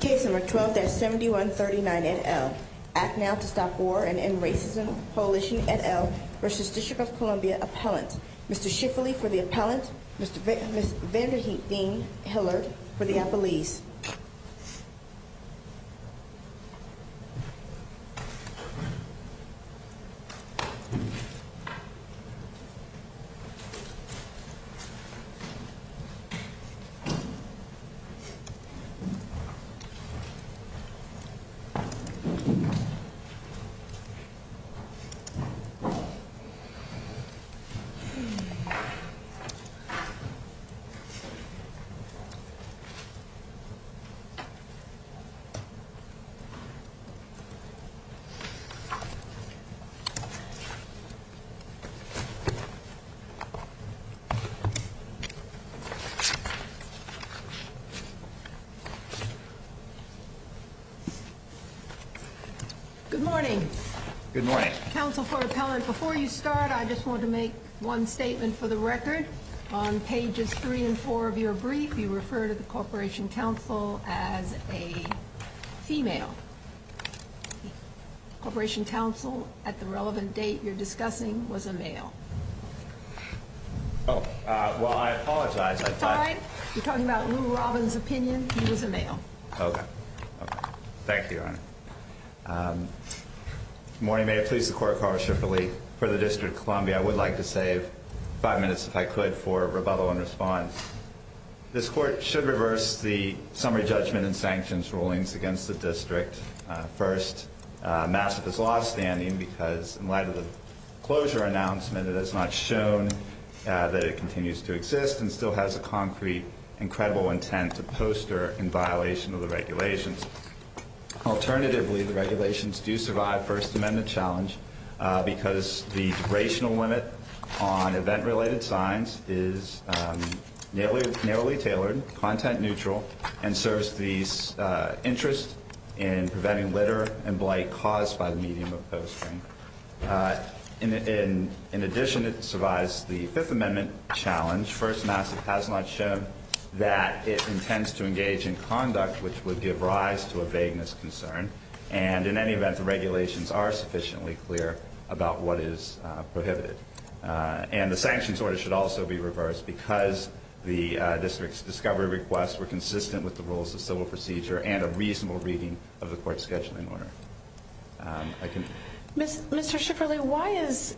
Case No. 12 at 7139 NL, Act Now to Stop War and End Racism, Coalition NL v. District of Columbia Appellant, Mr. Schifferle for the appellant, Mr. Vanderheep Dean-Hiller for the appellee. Mr. Schifferle for the appellant. Good morning. Good morning. Counsel for the appellant, before you start, I just want to make one statement for the record. On pages three and four of your brief, you refer to the Corporation Counsel as a female. Corporation Counsel, at the relevant date you're discussing, was a male. Oh, well, I apologize. That's all right. You're talking about Lou Robin's opinion. He was a male. Okay. Okay. Thank you. Good morning. May it please the Court, Congressman Schifferle. For the District of Columbia, I would like to save five minutes, if I could, for rebuttal and response. This Court should reverse the summary judgment and sanctions rulings against the District. First, massive is law standing because, in light of the closure announcement, it has not shown that it continues to exist and still has a concrete, incredible intent to poster in violation of the regulations. Alternatively, the regulations do survive First Amendment challenge because the generational limit on event-related signs is narrowly tailored, content neutral, and serves the interest in preventing litter and blight caused by the medium of posting. In addition, it survives the Fifth Amendment challenge. First, massive has not shown that it intends to engage in conduct which would give rise to a vagueness concern. And, in any event, the regulations are sufficiently clear about what is prohibited. And the sanctions order should also be reversed because the District's discovery requests were consistent with the rules of civil procedure and a reasonable reading of the Court's scheduling order. Mr. Schifferle, why is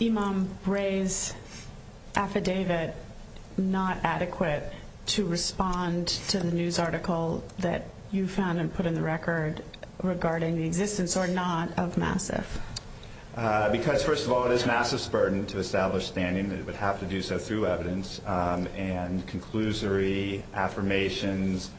Imam Gray's affidavit not adequate to respond to the news article that you found and put in the record regarding the existence or not of massive? Because, first of all, it is massive's burden to establish standing, and it would have to do so through evidence, and conclusory affirmations,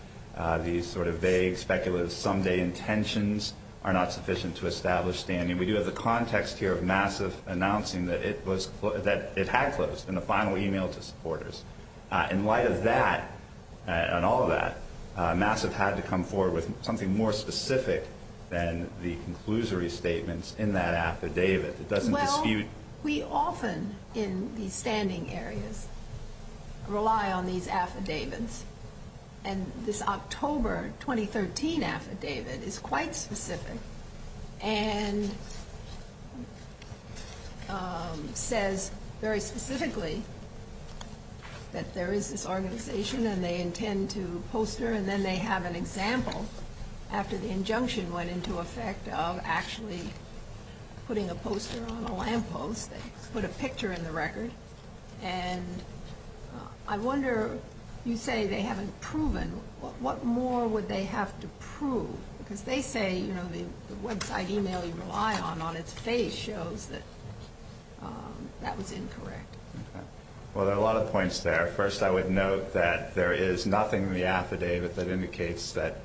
these sort of vague, speculative, some-day intentions are not sufficient to establish standing. We do have the context here of massive announcing that it had closed in the final email to supporters. In light of that, and all of that, massive had to come forward with something more specific than the conclusory statements in that affidavit. Well, we often, in these standing areas, rely on these affidavits. And this October 2013 affidavit is quite specific and says very specifically that there is this organization and they intend to poster, and then they have an example after the injunction went into effect of actually putting a poster on a lamppost and put a picture in the record. And I wonder, you say they haven't proven, what more would they have to prove? Because they say, you know, the website email you rely on on its face shows that that was incorrect. Well, there are a lot of points there. First, I would note that there is nothing in the affidavit that indicates that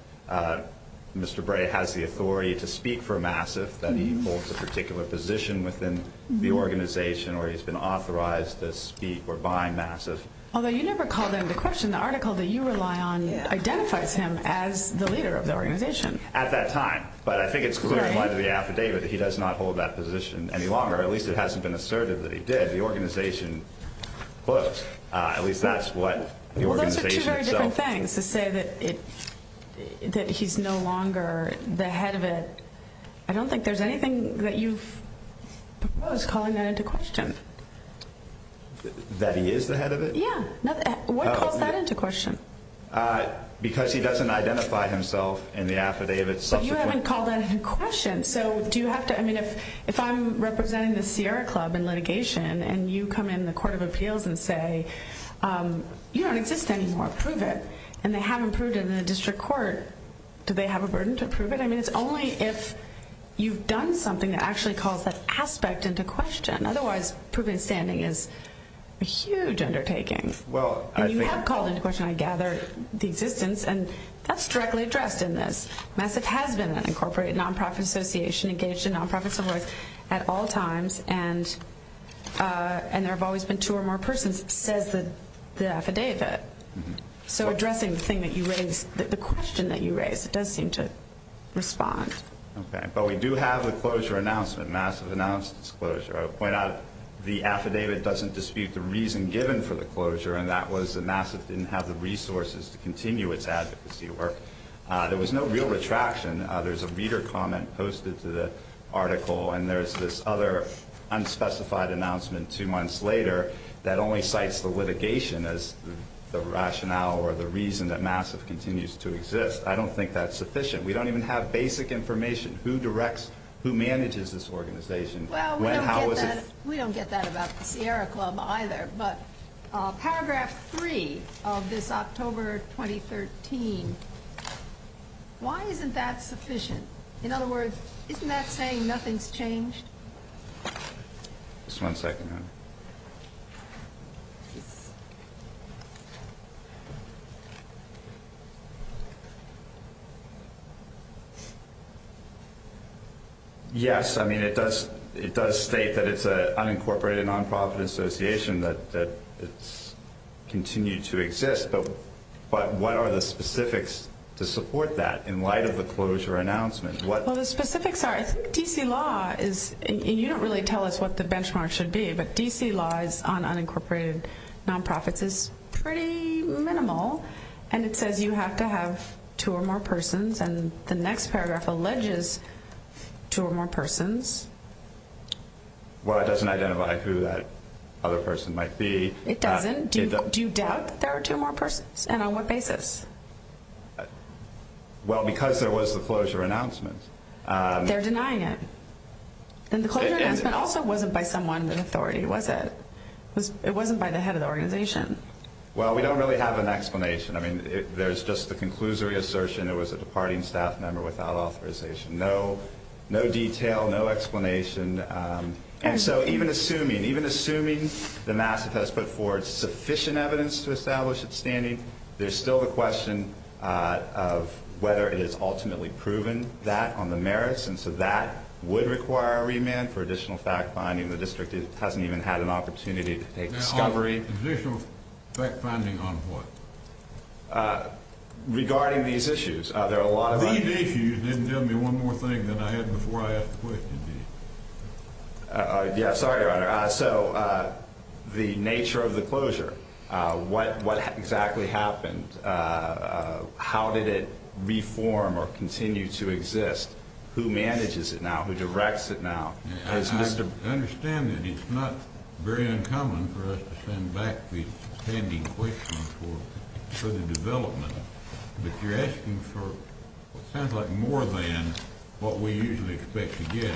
Mr. Gray has the authority to speak for massive, that he holds a particular position within the organization, or he's been authorized to speak for by massive. Although you never called into question the article that you rely on identifies him as the leader of the organization. At that time. But I think it's clear in the affidavit that he does not hold that position any longer. At least it hasn't been asserted that he did. The organization puts, at least that's what the organization itself says. I think it's interesting to say that he's no longer the head of it. I don't think there's anything that you've proposed calling that into question. That he is the head of it? Yeah. Why call that into question? Because he doesn't identify himself in the affidavit subsequently. But you haven't called that into question. If I'm representing the Sierra Club in litigation and you come in the Court of Appeals and say, you don't exist anymore. Prove it. And they haven't proved it in the district court. Do they have a burden to prove it? I mean, it's only if you've done something that actually calls that aspect into question. Otherwise, proving standing is a huge undertaking. Well, I think. And you have called into question, I gather, the existence. And that's directly addressed in this. Massive has been an incorporated non-profit association, engaged in non-profit similar at all times. And there have always been two or more persons. It says in the affidavit. So addressing the thing that you raised, the question that you raised, it does seem to respond. Okay. But we do have a closure announcement. Massive announced its closure. I'll point out the affidavit doesn't dispute the reason given for the closure. And that was that Massive didn't have the resources to continue its advocacy work. There was no real retraction. There's a leader comment posted to the article. And there's this other unspecified announcement two months later that only cites the litigation as the rationale or the reason that Massive continues to exist. I don't think that's sufficient. We don't even have basic information. Who directs, who manages this organization? We don't get that about Sierra Club either. But paragraph three of this October 2013, why isn't that sufficient? In other words, isn't that saying nothing's changed? Just one second. Yes, I mean, it does state that it's an unincorporated nonprofit association, that it's continued to exist. But what are the specifics to support that in light of the closure announcement? Well, the specifics are, I think PC law is, and you don't really tell us what the benchmark should be, but DC law on unincorporated nonprofits is pretty minimal. And it says you have to have two or more persons. And the next paragraph alleges two or more persons. Well, it doesn't identify who that other person might be. It doesn't? Do you doubt that there are two or more persons? And on what basis? Well, because there was the closure announcement. They're denying it. And the closure announcement also wasn't by someone in authority, was it? It wasn't by the head of the organization. Well, we don't really have an explanation. I mean, there's just the conclusory assertion it was a departing staff member without authorization. No detail, no explanation. And so even assuming the Massachusetts put forward sufficient evidence to establish its standing, there's still the question of whether it has ultimately proven that on the merits. And so that would require a remand for additional fact-finding. The district hasn't even had an opportunity to take a shot. Additional fact-finding on what? Regarding these issues. There are a lot of them. These issues. Then tell me one more thing that I had before I asked the question. Yeah, sorry, Ryder. So the nature of the closure. What exactly happened? How did it reform or continue to exist? Who manages it now? Who directs it now? I understand that it's not very uncommon for us to send back these pending questions for further development. But you're asking for what sounds like more than what we usually expect to get.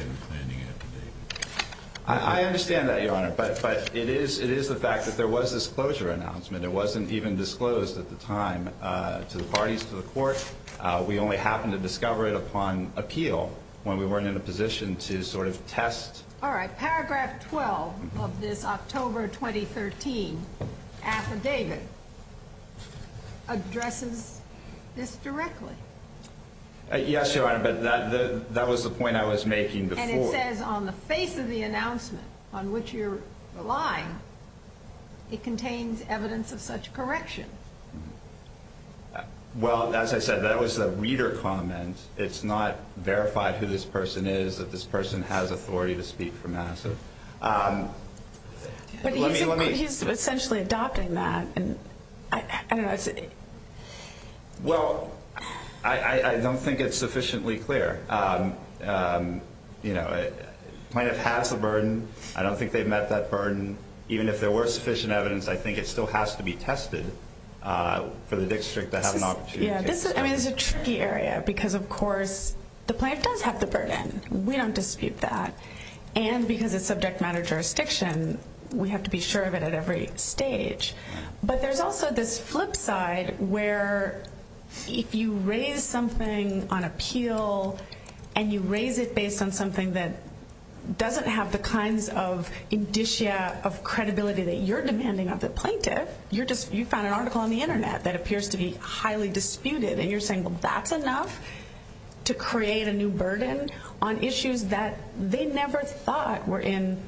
I understand that, Your Honor. But it is the fact that there was this closure announcement. It wasn't even disclosed at the time to the parties, to the court. We only happened to discover it upon appeal when we weren't in a position to sort of test. All right. Paragraph 12 of this October 2013 affidavit addresses this directly. Yes, Your Honor. But that was the point I was making before. And it says on the face of the announcement on which you're relying, it contains evidence of such correction. Well, as I said, that was a reader comment. It's not verified who this person is, that this person has authority to speak for Massive. But he's essentially adopting that. Well, I don't think it's sufficiently clear. You know, it might have passed a burden. I don't think they've met that burden. Even if there were sufficient evidence, I think it still has to be tested for the district to have an opportunity. Yeah, I mean, it's a tricky area because, of course, the plaintiff does have the burden. We don't dispute that. And because it's subject matter jurisdiction, we have to be sure of it at every stage. But there's also this flip side where if you raise something on appeal and you raise it based on something that doesn't have the kinds of indicia of credibility that you're demanding of the plaintiff, you found an article on the Internet that appears to be highly disputed. And you're saying, well, that's enough to create a new burden on issues that they never thought were in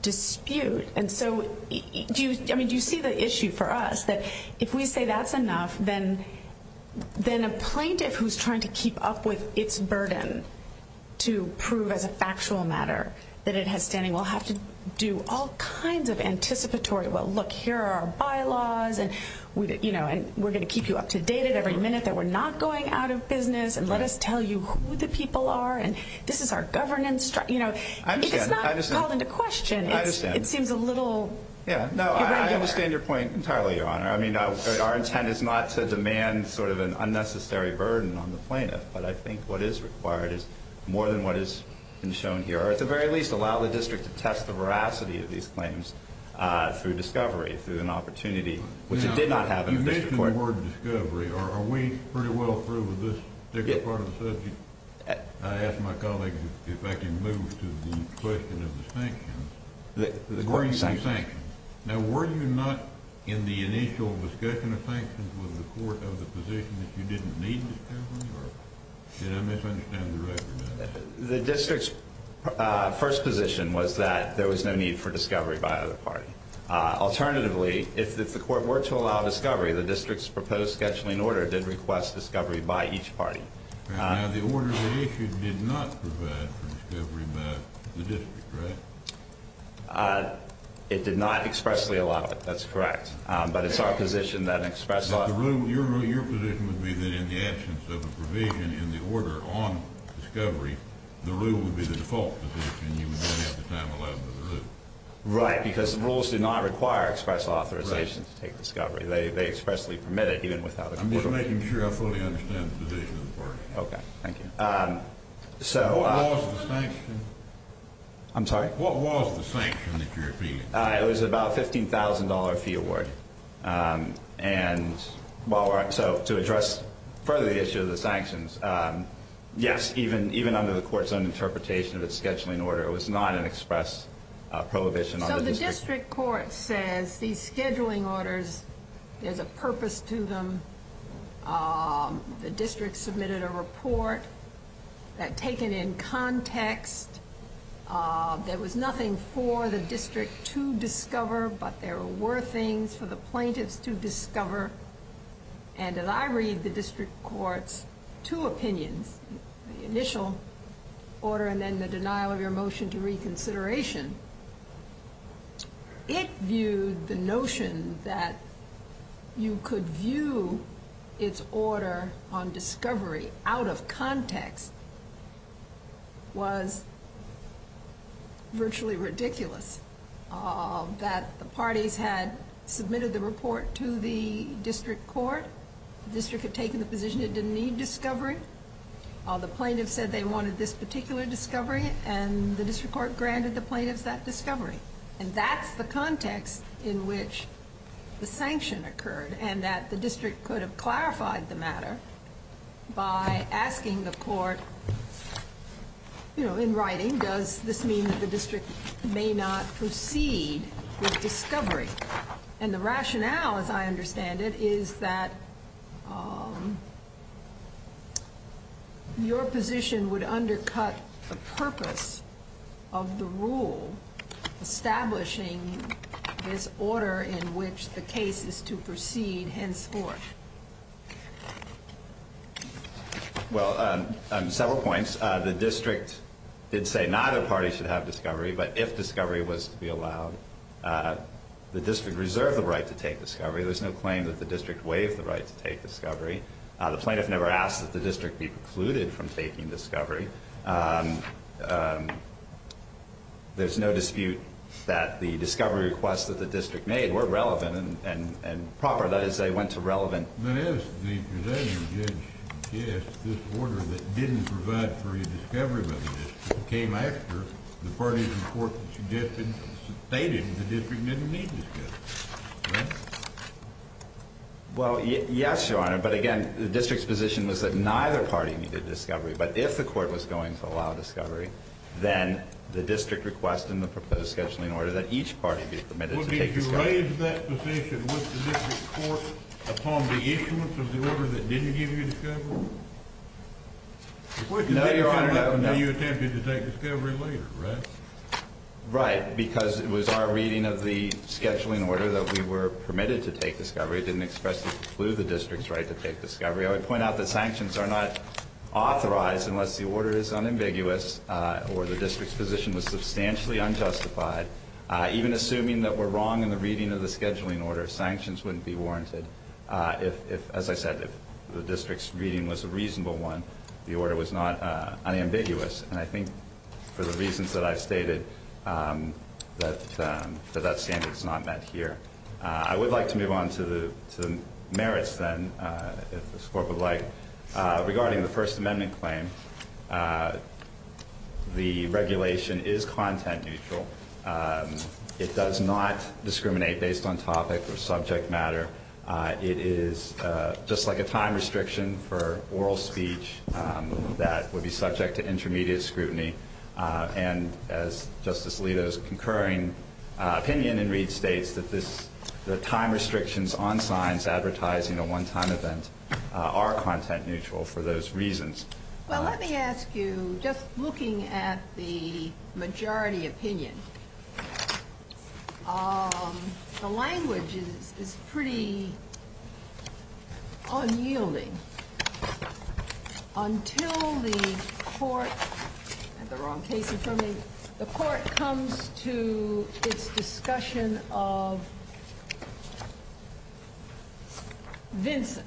dispute. And so, I mean, do you see the issue for us that if we say that's enough, then a plaintiff who's trying to keep up with its burden to prove as a factual matter that it has standing will have to do all kinds of anticipatory, well, look, here are our bylaws. And, you know, we're going to keep you up to date at every minute that we're not going out of business. And let us tell you who the people are. And this is our governance. You know, it's not calling to question. It seems a little. Yeah. No, I understand your point entirely, Your Honor. I mean, our intent is not to demand sort of an unnecessary burden on the plaintiff. But I think what is required is more than what has been shown here. Or at the very least, allow the district to test the veracity of these claims through discovery, through an opportunity, which it did not have. You mentioned the word discovery. Are we pretty well through with this part of the subject? I asked my colleague if I could move to the question of the sanctions. The court sanctioned. Now, were you not in the initial discussion of sanctions with the court on the position that you didn't need discovery? Did I misunderstand your question? The district's first position was that there was no need for discovery by either party. Alternatively, if the court were to allow discovery, the district's proposed scheduling order did request discovery by each party. The order that you issued did not provide for discovery by the district, right? It did not expressly allow it. That's correct. But it's our position that express authorization. Your position would be that in the absence of a provision in the order on discovery, the rule would be the default position. You wouldn't have to sign a lot of the rules. Right, because the rules do not require express authorization to take discovery. They expressly permit it, even without a provision. I'm just making sure I fully understand the position of the court. Okay, thank you. What was the sanction? I'm sorry? What was the sanction that you're appealing? It was about a $15,000 fee award. So to address further the issue of the sanctions, yes, even under the court's own interpretation of the scheduling order, it was not an express prohibition on the district. The district court says these scheduling orders, there's a purpose to them. The district submitted a report that, taken in context, there was nothing for the district to discover, but there were things for the plaintiffs to discover. And as I read the district court's two opinions, the initial order and then the denial of your motion to reconsideration, it viewed the notion that you could view its order on discovery out of context was virtually ridiculous. That the parties had submitted the report to the district court. The district had taken the position it didn't need discovery. The plaintiff said they wanted this particular discovery, and the district court granted the plaintiff that discovery. And that's the context in which the sanction occurred, and that the district could have clarified the matter by asking the court, you know, in writing, does this mean that the district may not proceed with discovery? And the rationale, as I understand it, is that your position would undercut the purpose of the rule establishing this order in which the case is to proceed henceforth. Well, on several points, the district did say neither party should have discovery, but if discovery was to be allowed, the district reserved the right to take discovery. There's no claim that the district waived the right to take discovery. The plaintiff never asked that the district be precluded from taking discovery. There's no dispute that the discovery requests that the district made were relevant and proper. Yes, the position is that this order that didn't provide for your discovery came after the parties in court had stated that the district didn't need discovery. Well, yes, Your Honor, but again, the district's position was that neither party needed discovery, but if the court was going to allow discovery, then the district requested in the proposed scheduling order that each party be permitted to take discovery. Well, did you raise that position with the district's court upon the issuance of the order that didn't give you discovery? No, Your Honor, no. You attempted to take discovery later, correct? Right, because it was our reading of the scheduling order that we were permitted to take discovery. It didn't expressly preclude the district's right to take discovery. I would point out that sanctions are not authorized unless the order is unambiguous or the district's position was substantially unjustified. Even assuming that we're wrong in the reading of the scheduling order, sanctions wouldn't be warranted. If, as I said, the district's reading was a reasonable one, the order was not unambiguous, and I think for the reasons that I stated, that standard is not met here. I would like to move on to the merits, then, if the Court would like. Regarding the First Amendment claim, the regulation is content-neutral. It does not discriminate based on topic or subject matter. It is just like a time restriction for oral speech that would be subject to intermediate scrutiny. And, as Justice Alito's concurring opinion in Reed states, that the time restrictions on signs advertising a one-time event are content-neutral for those reasons. Well, let me ask you, just looking at the majority opinion, the language is pretty unyielding. Until the Court comes to its discussion of Vincent,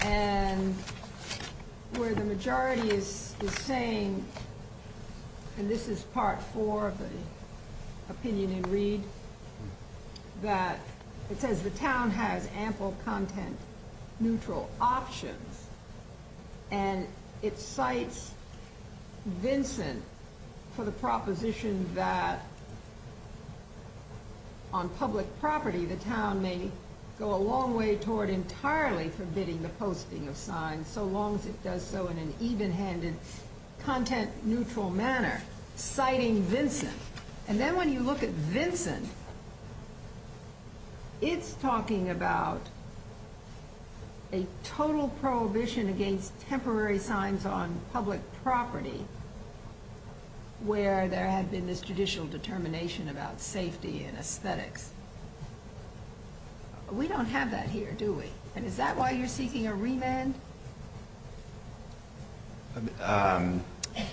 and where the majority is saying, and this is Part 4 of the opinion in Reed, that it says the town has ample content-neutral options, and it cites Vincent for the proposition that, on public property, the town may go a long way toward entirely forbidding the posting of signs, so long as it does so in an even-handed, content-neutral manner, citing Vincent. And then when you look at Vincent, it's talking about a total prohibition against temporary signs on public property, where there has been this judicial determination about safety and aesthetics. We don't have that here, do we? And is that why you're seeking a remand?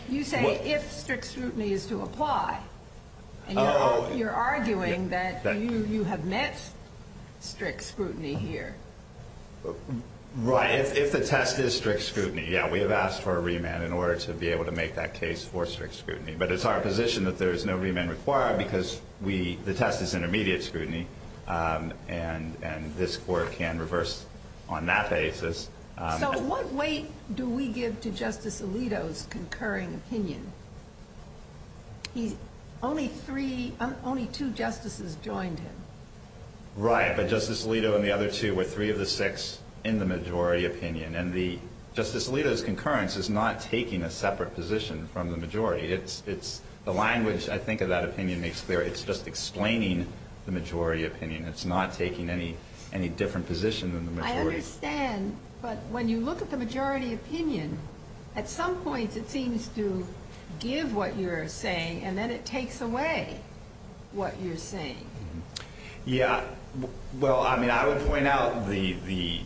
You say, if strict scrutiny is to apply, and you're arguing that you have met strict scrutiny here. Right, if the test is strict scrutiny, yeah, we have asked for a remand in order to be able to make that case for strict scrutiny. But it's our position that there is no remand required, because the test is intermediate scrutiny, and this Court can reverse on that basis. So what weight do we give to Justice Alito's concurring opinion? Only two justices joined him. Right, but Justice Alito and the other two were three of the six in the majority opinion, and Justice Alito's concurrence is not taking a separate position from the majority. The language, I think, of that opinion makes clear. It's just explaining the majority opinion. It's not taking any different position than the majority. I understand, but when you look at the majority opinion, at some point it seems to give what you're saying, and then it takes away what you're saying. Yeah. Well, I mean, I would point out the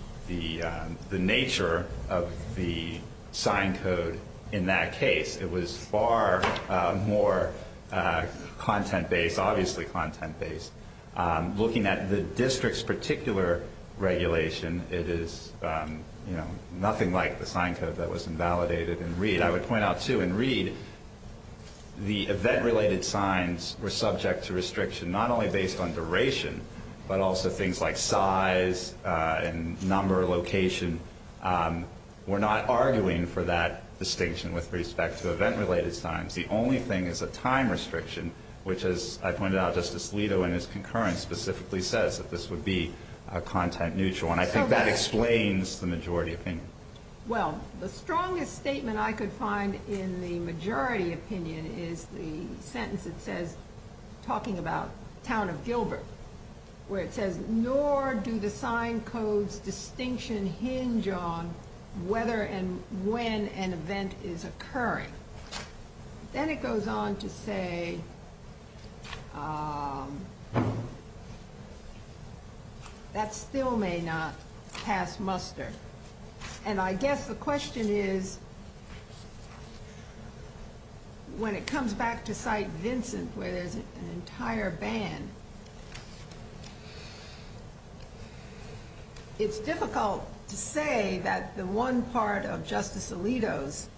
nature of the sign code in that case. It was far more content-based, obviously content-based. Looking at the district's particular regulation, it is nothing like the sign code that was invalidated in Reed. I would point out, too, in Reed, the event-related signs were subject to restriction not only based on duration, but also things like size and number of location. We're not arguing for that distinction with respect to event-related signs. The only thing is the time restriction, which, as I pointed out, Justice Alito in his concurrence specifically says that this would be content-neutral, and I think that explains the majority opinion. Well, the strongest statement I could find in the majority opinion is the sentence that says, talking about the town of Gilbert, where it says, nor do the sign codes' distinction hinge on whether and when an event is occurring. Then it goes on to say that still may not pass muster. I guess the question is, when it comes back to Site Vincent, where there's an entire ban, it's difficult to say that the one part of Justice Alito's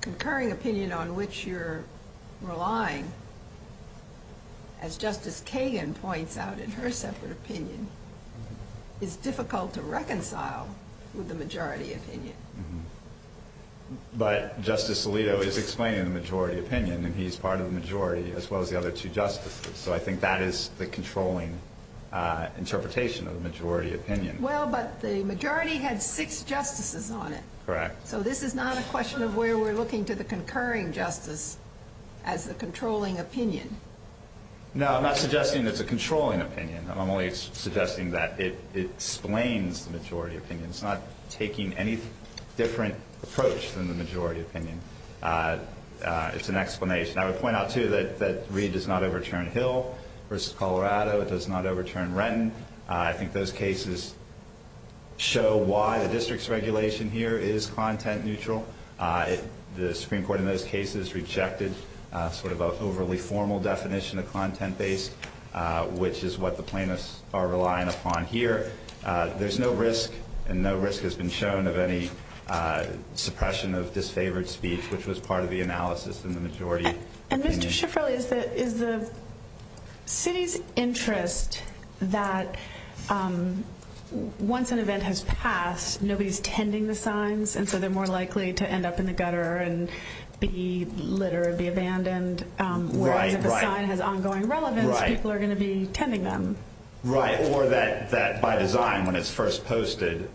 concurring opinion on which you're relying, as Justice Kagan points out in her separate opinion, is difficult to reconcile with the majority opinion. But Justice Alito is explaining the majority opinion, and he's part of the majority as well as the other two justices, so I think that is the controlling interpretation of the majority opinion. Well, but the majority had six justices on it. Correct. So this is not a question of where we're looking to the concurring justice as the controlling opinion. No, I'm not suggesting it's a controlling opinion. I'm only suggesting that it explains the majority opinion. It's not taking any different approach from the majority opinion. It's an explanation. I would point out, too, that Reed does not overturn Hill versus Colorado. It does not overturn Renton. I think those cases show why the district's regulation here is content neutral. The Supreme Court in those cases rejected sort of an overly formal definition of content-based, which is what the plaintiffs are relying upon here. There's no risk, and no risk has been shown of any suppression of disfavored speech, which was part of the analysis in the majority opinion. And, Mr. Schifferle, is the city's interest that once an event has passed, nobody's tending the signs, and so they're more likely to end up in the gutter and be littered, be abandoned? Right, right. If the sign has ongoing relevance, people are going to be tending them. Right. Or that by design, when it's first posted,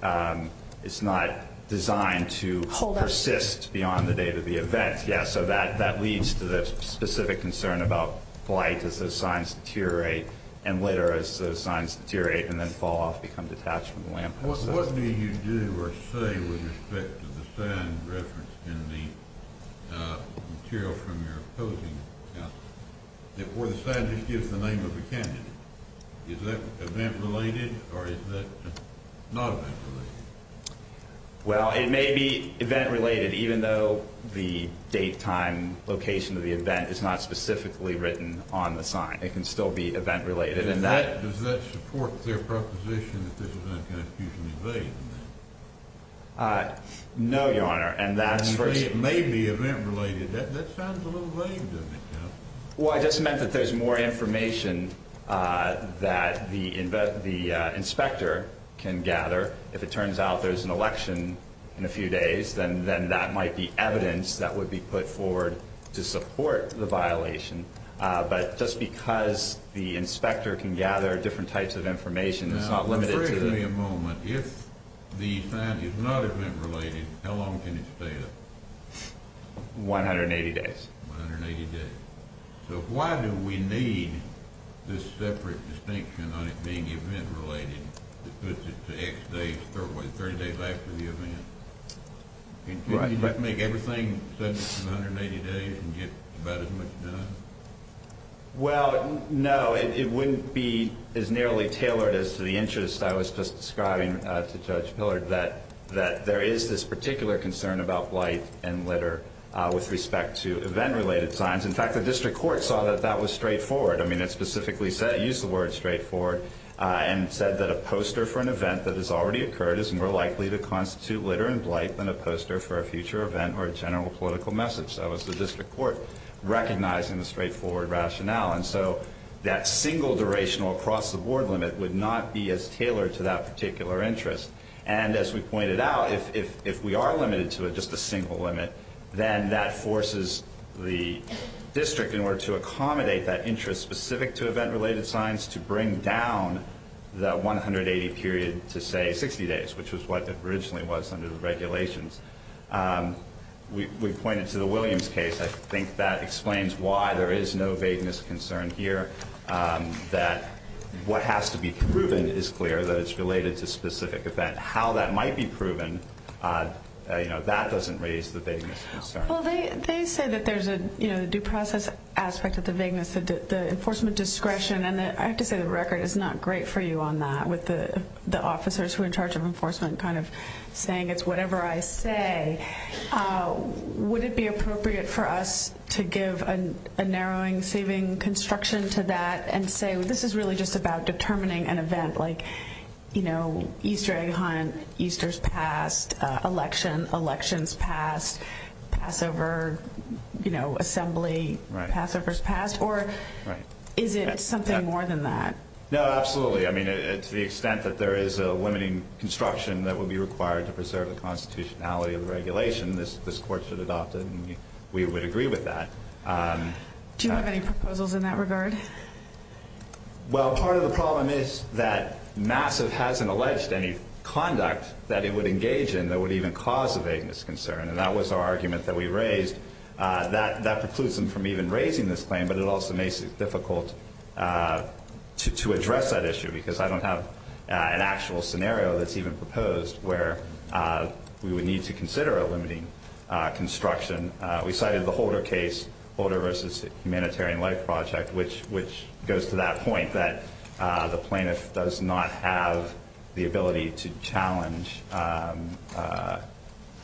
it's not designed to persist beyond the date of the event. Yeah, so that leads to the specific concern about blight as those signs deteriorate, and litter as those signs deteriorate and then fall off, become detached from the landfill site. What do you do or say with respect to the sign referenced in the material from your opposing account, where the sign just gives the name of the county? Is that event-related, or is that non-event-related? Well, it may be event-related, even though the date, time, location of the event is not specifically written on the sign. It can still be event-related. Does that support their proposition that this is not going to continue to be valid? No, Your Honor. And you say it may be event-related. That sounds a little vague, doesn't it, John? Well, I just meant that there's more information that the inspector can gather. If it turns out there's an election in a few days, then that might be evidence that would be put forward to support the violation. But just because the inspector can gather different types of information, it's not limited to that. Now, give me a moment. If the sign is non-event-related, how long can it stay up? 180 days. 180 days. So why do we need this separate distinction on it being event-related that puts it to X days, or what, 30 days after the event? Does that make everything separate in 180 days, or can you get about as much done? Well, no, it wouldn't be as narrowly tailored as to the interest I was just describing to Judge Pillard, that there is this particular concern about blight and litter with respect to event-related signs. In fact, the district court saw that that was straightforward. I mean, it specifically used the word straightforward and said that a poster for an event that has already occurred is more likely to constitute litter and blight than a poster for a future event or a general political message. That was the district court recognizing the straightforward rationale. And so that single durational across-the-board limit would not be as tailored to that particular interest. And as we pointed out, if we are limited to just a single limit, then that forces the district in order to accommodate that interest specific to event-related signs to bring down the 180 period to, say, 60 days, which was what it originally was under the regulations. We pointed to the Williams case. I think that explains why there is no vagueness concern here, that what has to be proven is clear, that it's related to a specific event. How that might be proven, you know, that doesn't raise the vagueness concern. Well, they say that there's a due process aspect of the vagueness, the enforcement discretion, and I have to say the record is not great for you on that with the officers who are in charge of enforcement kind of saying it's whatever I say. Would it be appropriate for us to give a narrowing saving construction to that and say this is really just about determining an event like, you know, Easter egg hunt, Easter's past, election, elections past, Passover, you know, assembly, Passover's past? Or is it something more than that? No, absolutely. I mean, to the extent that there is a limiting construction that would be required to preserve the constitutionality of the regulation, this Court should adopt it, and we would agree with that. Do you have any proposals in that regard? Well, part of the problem is that MASSIVE hasn't alleged any conduct that it would engage in that would even cause a vagueness concern, and that was our argument that we raised. That precludes them from even raising this claim, but it also makes it difficult to address that issue because I don't have an actual scenario that's even proposed where we would need to consider a limiting construction. We cited the Holder case, Holder v. Humanitarian Life Project, which goes to that point that the plaintiff does not have the ability to challenge the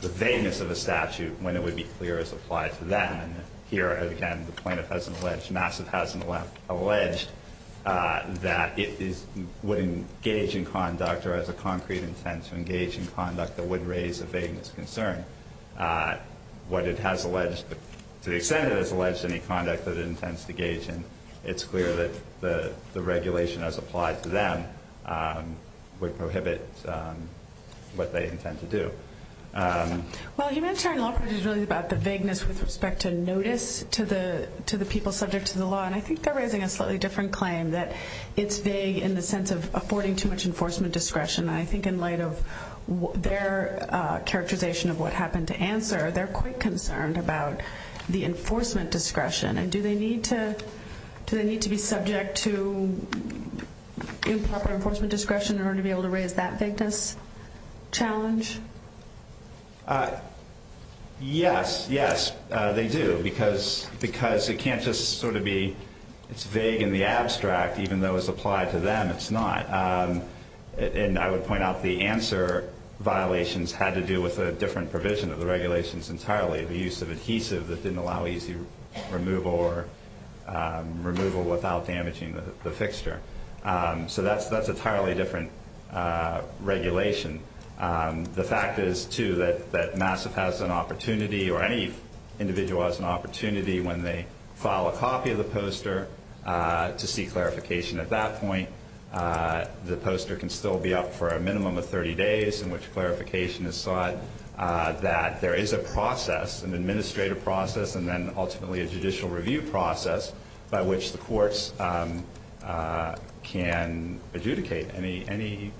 vagueness of a statute when it would be clear as applied to them. And here, again, the plaintiff hasn't alleged, MASSIVE hasn't alleged that it would engage in conduct or has a concrete intent to engage in conduct that would raise a vagueness concern. What it has alleged, to the extent it has alleged any conduct that it intends to engage in, it's clear that the regulation as applied to them would prohibit what they intend to do. Well, humanitarian law is really about the vagueness with respect to notice to the people subject to the law, and I think they're raising a slightly different claim that it's vague in the sense of affording too much enforcement discretion. I think in light of their characterization of what happened to answer, they're quite concerned about the enforcement discretion. Do they need to be subject to improper enforcement discretion in order to be able to raise that vagueness challenge? Yes, yes, they do, because it can't just sort of be it's vague in the abstract, even though it's applied to them, it's not. And I would point out the answer violations had to do with a different provision of the regulations entirely, the use of adhesive that didn't allow easy removal or removal without damaging the fixture. So that's an entirely different regulation. The fact is, too, that Masset has an opportunity, or any individual has an opportunity, when they file a copy of the poster to seek clarification at that point. The poster can still be up for a minimum of 30 days in which clarification is sought, that there is a process, an administrative process, and then ultimately a judicial review process by which the courts can adjudicate any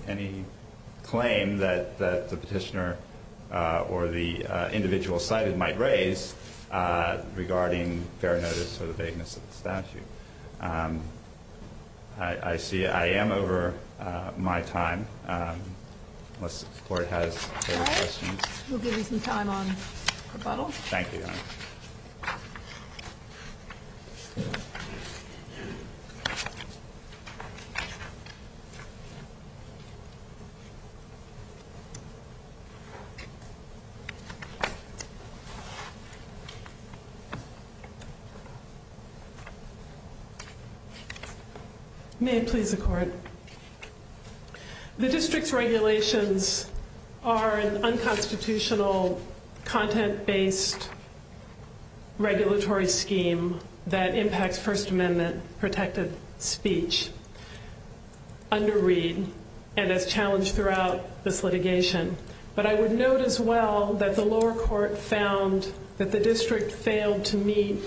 claim that the petitioner or the individual cited might raise regarding fair notice or vagueness of the statute. I see I am over my time. Unless the Court has any questions. All right. We'll give you some time on rebuttal. Thank you, Your Honor. May it please the Court. The district's regulations are an unconstitutional content-based regulatory scheme that impacts First Amendment protected speech under Reed and is challenged throughout this litigation. But I would note as well that the lower court found that the district failed to meet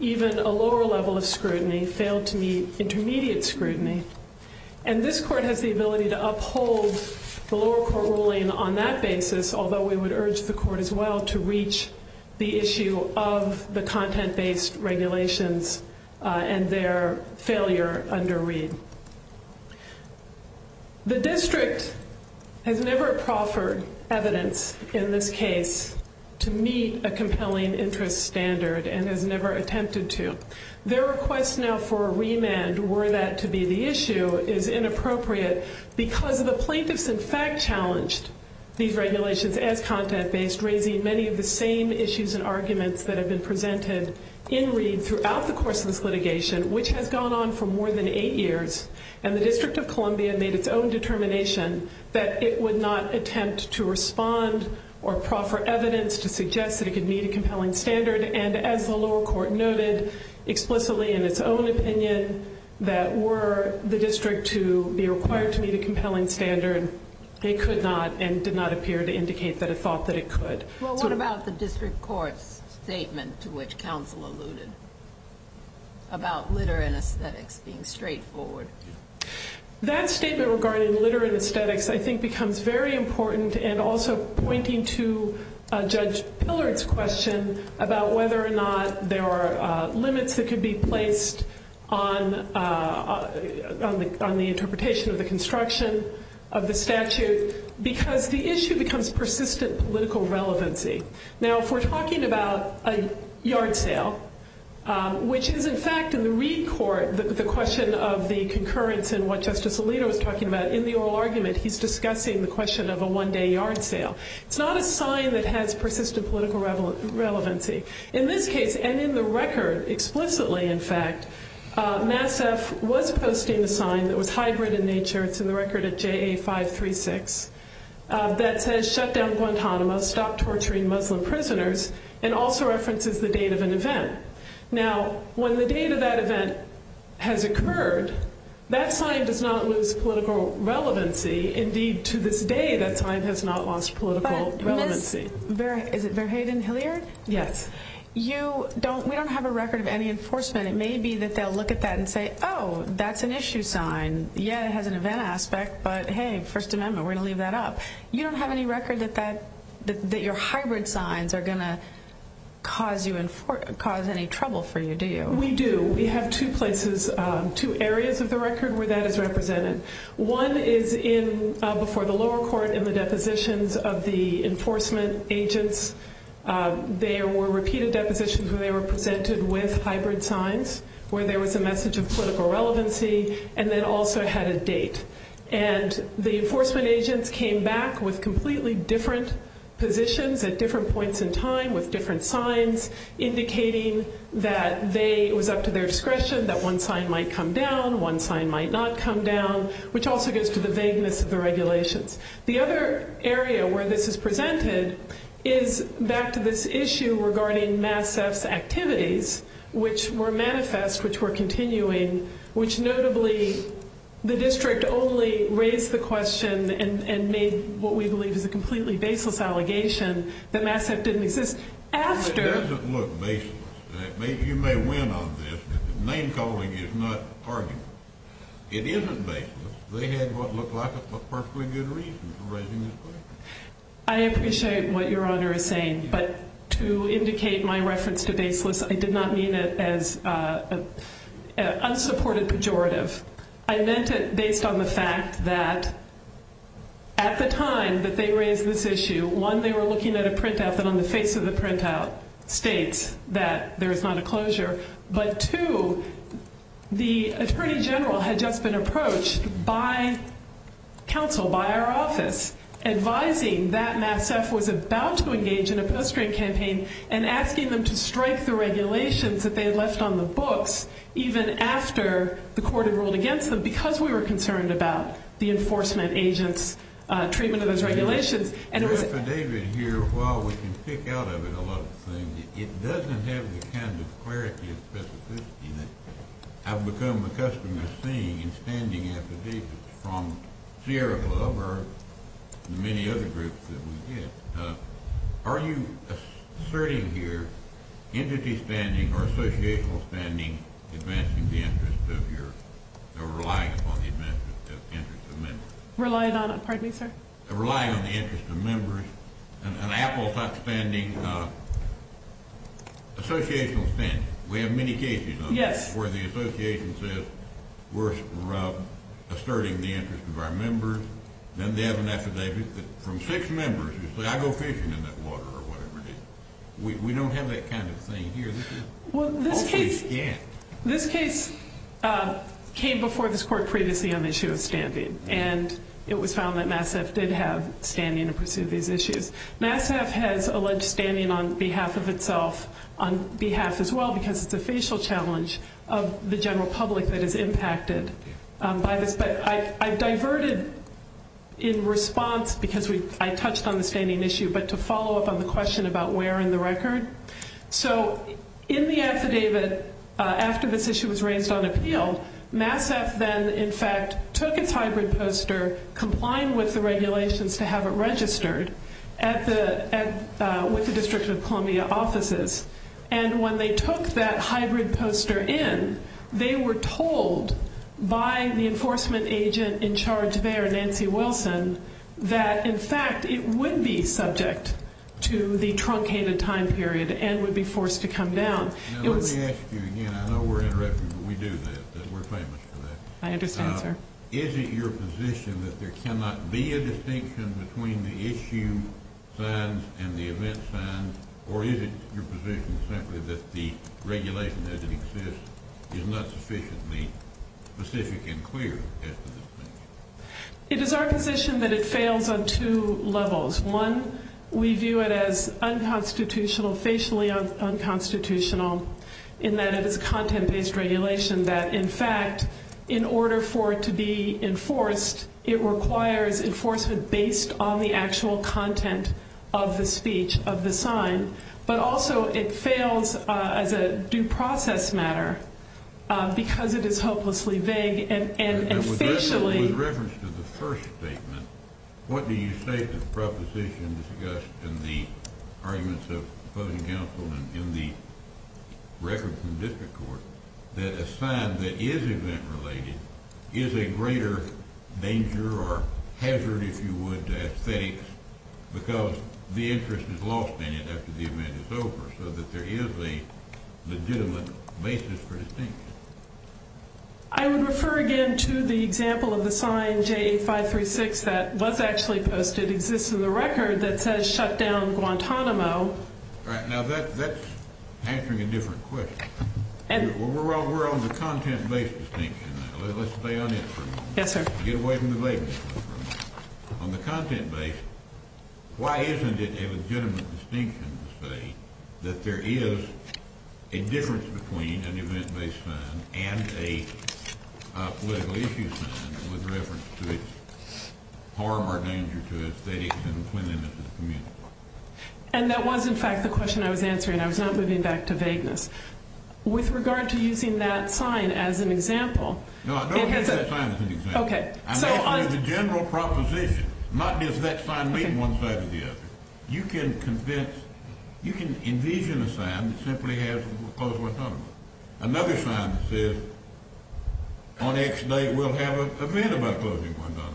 even a lower level of scrutiny, failed to meet intermediate scrutiny, and this Court has the ability to uphold the lower court ruling on that basis, although we would urge the Court as well to reach the issue of the content-based regulations and their failure under Reed. The district has never proffered evidence in this case to meet a compelling interest standard and has never attempted to. Their request now for a remand, were that to be the issue, is inappropriate because the plaintiffs in fact challenged these regulations as content-based, raising many of the same issues and arguments that have been presented in Reed throughout the course of this litigation, which has gone on for more than eight years. And the District of Columbia made its own determination that it would not attempt to respond or proffer evidence to suggest that it could meet a compelling standard. And as the lower court noted explicitly in its own opinion, that were the district to be required to meet a compelling standard, they could not and did not appear to indicate that it thought that it could. Well, what about the district court statement to which counsel alluded about litter and aesthetics being straightforward? That statement regarding litter and aesthetics I think becomes very important and also pointing to Judge Pillard's question about whether or not there are limits that could be placed on the interpretation of the construction of the statute because the issue becomes persistent political relevancy. Now, if we're talking about a yard sale, which is in fact in the Reed court, the question of the concurrence and what Justice Alito is talking about, in the oral argument he's discussing the question of a one-day yard sale. It's not a sign that has persistent political relevancy. In this case, and in the record explicitly, in fact, MASF was posting a sign that was hybrid in nature to the record of JA 536 that says shut down Guantanamo, stop torturing Muslim prisoners, and also references the date of an event. Now, when the date of that event has occurred, that sign does not lose political relevancy. Indeed, to this day, that sign has not lost political relevancy. Is it Fairhaven Hilliard? Yes. We don't have a record of any enforcement. It may be that they'll look at that and say, oh, that's an issue sign. Yeah, it has an event aspect, but hey, First Amendment, we're going to leave that up. You don't have any record that your hybrid signs are going to cause any trouble for you, do you? We do. We have two places, two areas of the record where that is represented. One is before the lower court in the depositions of the enforcement agents. There were repeated depositions where they were presented with hybrid signs, where there was a message of political relevancy, and then also had a date. And the enforcement agents came back with completely different positions at different points in time with different signs indicating that it was up to their discretion that one sign might come down, one sign might not come down, which also goes to the vagueness of the regulations. The other area where this is presented is back to this issue regarding mass theft activities, which were manifest, which were continuing, which notably the district only raised the question and made what we believe is a completely baseless allegation that mass theft didn't exist. It doesn't look baseless. You may win on this. Name calling is not argument. It isn't baseless. They had what looked like a perfectly good reason for raising this question. I did not mean it as an unsupported pejorative. I meant it based on the fact that at the time that they raised this issue, one, they were looking at a printout that on the face of the printout states that there is not a closure, but two, the attorney general had just been approached by counsel, by our office, advising that mass theft was about to engage in a post-trade campaign and asking them to strike the regulations that they had left on the books even after the court had ruled against them because we were concerned about the enforcement agents' treatment of those regulations. The affidavit here, while we can pick out of it a lot of things, it doesn't have the kind of clarity I've become accustomed to seeing in standing affidavits from Sierra Club or many other groups that we did. Are you asserting here entity standing or associational standing advancing the interests of your or relying on the interests of members? Relying on, pardon me, sir? Relying on the interests of members. An apple-top standing, associational standing. We have many cases on this where the association says we're asserting the interests of our members. Then they have an affidavit from six members who say I go fishing in that water or whatever. We don't have that kind of thing here. This case came before this court previously on the issue of standing, and it was found that Mass Ave. did have standing to pursue these issues. Mass Ave. has alleged standing on behalf of itself, on behalf as well, because it's a facial challenge of the general public that is impacted by this. But I diverted in response because I touched on the standing issue, but to follow up on the question about where in the record. So in the affidavit after this issue was raised on appeal, Mass Ave. then in fact took its hybrid poster, complying with the regulations to have it registered with the District of Columbia offices. And when they took that hybrid poster in, they were told by the enforcement agent in charge there, Nancy Wilson, that in fact it would be subject to the truncated time period and would be forced to come down. Now let me ask you again. I know we're interrupting, but we do that because we're famous for that. I understand, sir. Is it your position that there cannot be a distinction between the issue signs and the event signs, or is it your position simply that the regulation that exists is not sufficiently specific and clear? It is our position that it fails on two levels. One, we view it as unconstitutional, facially unconstitutional, in that it is a content-based regulation that in fact in order for it to be enforced, it requires enforcement based on the actual content of the speech of the sign. But also it fails as a due process matter because it is hopelessly vague And with reference to the first statement, what do you say to the proposition discussed in the arguments of closing counsel and in the records in the district court that a sign that is event-related is a greater danger or hazard, if you would, to estates because the interest is lost in it after the event is over I would refer again to the example of the sign J536 that was actually posted exists in the record that says shut down Guantanamo. All right, now that's answering a different question. We're on the content-based distinction now. Let's stay on that for a minute. Yes, sir. Get away from the vagueness. On the content-based, why isn't it a legitimate distinction to say that there is a difference between an event-based sign and a political issue sign with reference to the harm or danger to estates and the cleanliness of the community? And that was in fact the question I was answering. I was not moving back to vagueness. With regard to using that sign as an example. No, I don't think that sign is an example. Okay. I'm talking about the general proposition, not does that sign lead one side or the other. You can convince, you can envision a sign that simply has the proposal of Guantanamo. Another sign says on X date we'll have an event about closing Guantanamo.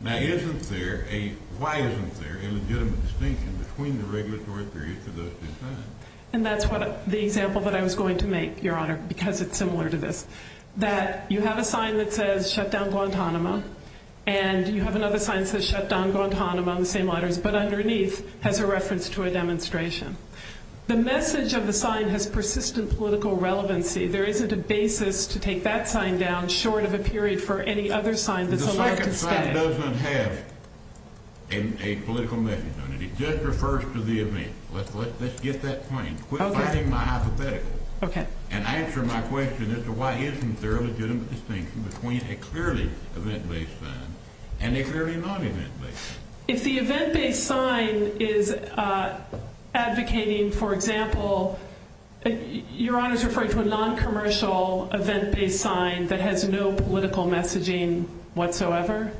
Now, isn't there a, why isn't there a legitimate distinction between the regulatory periods for those two signs? And that's the example that I was going to make, Your Honor, because it's similar to this. That you have a sign that says shut down Guantanamo and you have another sign that says shut down Guantanamo, the same letters, but underneath has a reference to a demonstration. The message of the sign has persistent political relevancy. There isn't a basis to take that sign down short of a period for any other sign that's elected. The sign doesn't have a political message on it. It just refers to the event. Let's get that point. Okay. Quit finding my hypothetical. Okay. And answer my question as to why isn't there a legitimate distinction between a clearly event-based sign and a very non-event-based sign. If the event-based sign is advocating, for example, Your Honor is referring to a non-commercial event-based sign that has no political messaging whatsoever.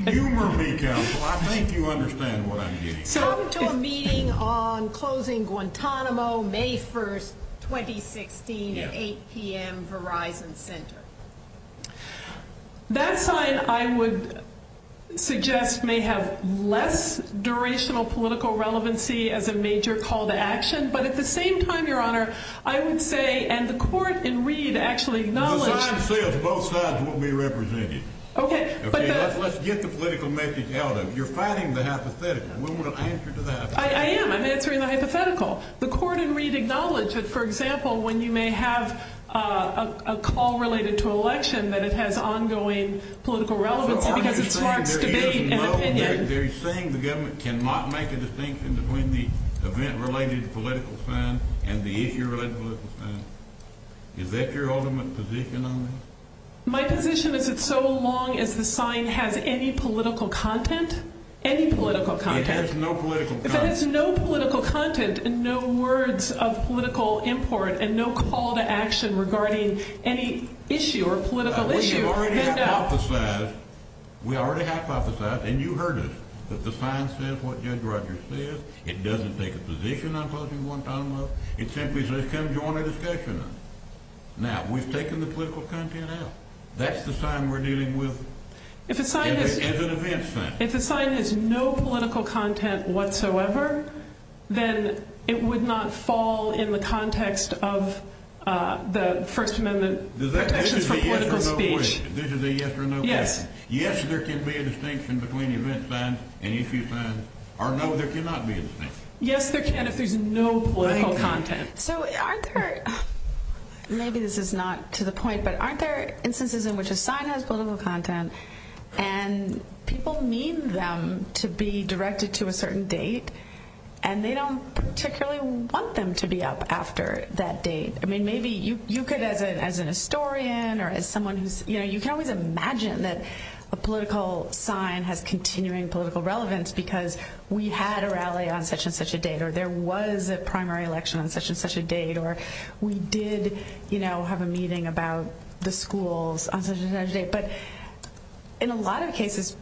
You were legal. I think you understand what I mean. So to a meeting on closing Guantanamo, May 1, 2016, 8 p.m., Verizon Center. That sign, I would suggest, may have less durational political relevancy as a major call to action, but at the same time, Your Honor, I would say, and the court in Reed actually acknowledges Both signs will be represented. Okay. Let's get the political message out of it. You're finding the hypothetical. We want to answer to that. I am. I'm answering the hypothetical. The court in Reed acknowledges, for example, when you may have a call related to an election that it has ongoing political relevance. They're saying the government cannot make a distinction between the event-related political sign and the issue-related political sign. Is that your ultimate position on this? My position is it's so long as the sign has any political content. Any political content. It has no political content. No political content and no words of political import and no call to action regarding any issue or political issue or handout. We already hypothesized, and you heard it, that the sign says what Judge Rogers said. It doesn't take a position on closing Guantanamo. It simply says, come join our discussion. Now, we've taken the political content out. That's the sign we're dealing with as an advance sign. If the sign has no political content whatsoever, then it would not fall in the context of the First Amendment protections for political speech. This is a yes or no question. Yes. Yes, there can be a distinction between event signs and issue signs. Or no, there cannot be a distinction. Yes, there can if there's no political content. So aren't there – maybe this is not to the point, but aren't there instances in which a sign has political content and people need them to be directed to a certain date and they don't particularly want them to be up after that date? I mean, maybe you could, as a historian or as someone who's – you can't really imagine that a political sign had continuing political relevance because we had a rally on such and such a date or there was a primary election on such and such a date or we did have a meeting about the schools on such and such a date. But in a lot of cases,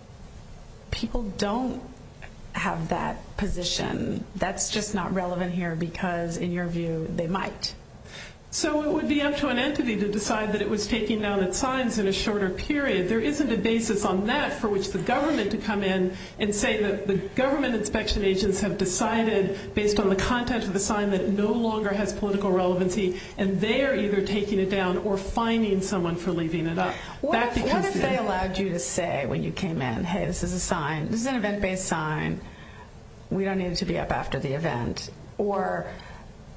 people don't have that position. That's just not relevant here because, in your view, they might. So it would be up to an entity to decide that it was taking down a sign in a shorter period. There isn't a basis on that for which the government to come in and say that the government inspection agents have decided, based on the content of a sign that no longer has political relevancy, and they are either taking it down or fining someone for leaving it up. What if they allowed you to say when you came in, hey, this is a sign – this is an event-based sign. We don't need it to be up after the event. Or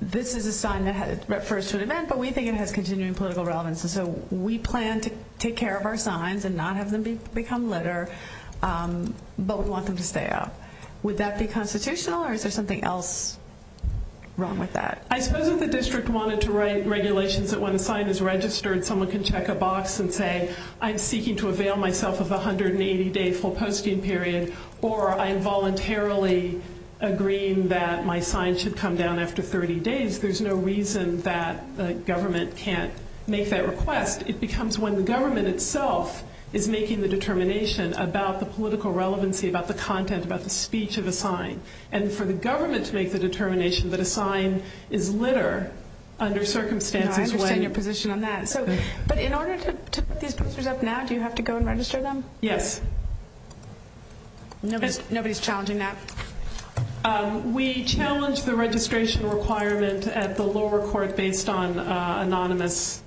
this is a sign that refers to an event, but we think it has continuing political relevance, and so we plan to take care of our signs and not have them become litter, but we want them to stay up. Would that be constitutional, or is there something else wrong with that? I suppose if the district wanted to write regulations that when a sign is registered, someone can check a box and say, I'm seeking to avail myself of a 180-day full posting period, or I'm voluntarily agreeing that my sign should come down after 30 days. There's no reason that the government can't make that request. It becomes when the government itself is making the determination about the political relevancy, about the content, about the speech of the sign. And for the government to make the determination that a sign is litter under circumstances when – I understand your position on that. But in order to put these posters up now, do you have to go and register them? Yes. Nobody's challenging that? We challenge the registration requirement at the lower court based on anonymous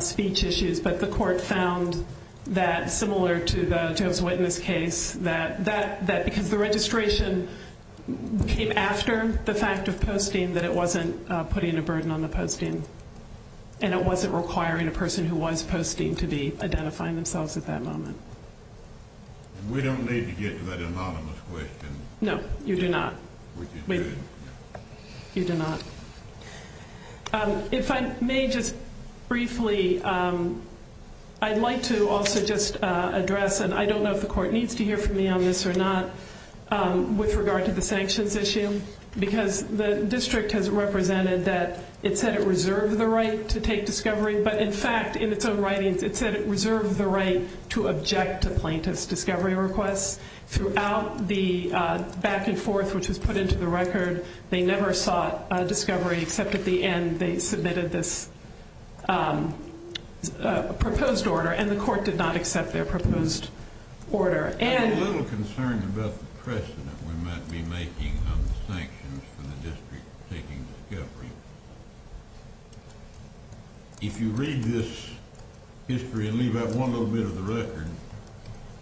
speech issues, but the court found that similar to the Job's Witness case, that the registration came after the fact of posting that it wasn't putting a burden on the posting, and it wasn't requiring a person who was posting to be identifying themselves at that moment. We don't need to get to that anonymous question. No, you do not. We do not. You do not. If I may just briefly – I'd like to also just address, and I don't know if the court needs to hear from me on this or not, with regard to the sanctions issue, because the district has represented that it said it reserved the right to take discovery, but in fact, in its own writings, it said it reserved the right to object to plaintiff's discovery request. Throughout the back and forth which was put into the record, they never sought discovery except at the end they submitted this proposed order, and the court did not accept their proposed order. I'm a little concerned about the precedent we might be making on the sanctions for the district taking discovery. If you read this history and leave out one little bit of the record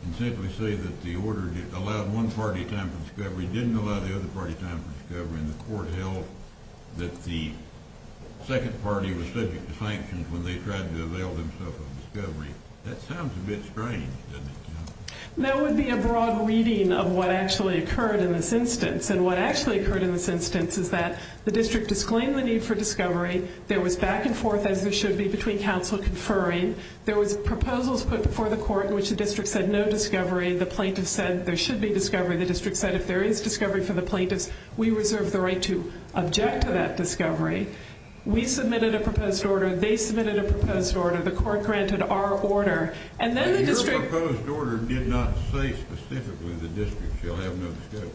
and simply say that the order allowed one party time for discovery, didn't allow the other party time for discovery, and the court held that the second party was subject to sanctions when they tried to avail themselves of discovery, that sounds a bit strange, doesn't it? That would be a broad reading of what actually occurred in this instance, and what actually occurred in this instance is that the district disclaimed the need for discovery. There was back and forth, as there should be, between counsel conferring. There were proposals put before the court in which the district said no discovery. The plaintiff said there should be discovery. The district said if there is discovery for the plaintiff, we reserve the right to object to that discovery. We submitted a proposed order. They submitted a proposed order. The court granted our order, and then the district- Your proposed order did not say specifically the district shall have no discovery.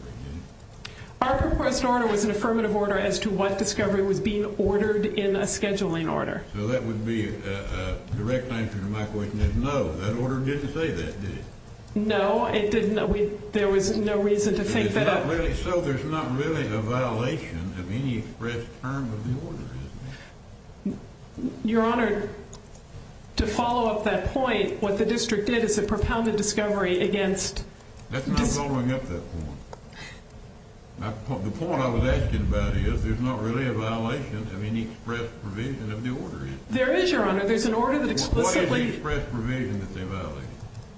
Our proposed order was an affirmative order as to what discovery was being ordered in a scheduling order. So that would be a direct answer to my question is no, that order didn't say that, did it? No, it didn't. There was no reason to take that up. So there's not really a violation of any express term of the order, is there? Your Honor, to follow up that point, what the district did is it propounded discovery against- That's not following up that point. The point I was asking about is there's not really a violation of any express provision of the order, is there? There is, Your Honor. There's an order that explicitly- What is the express provision that they violated?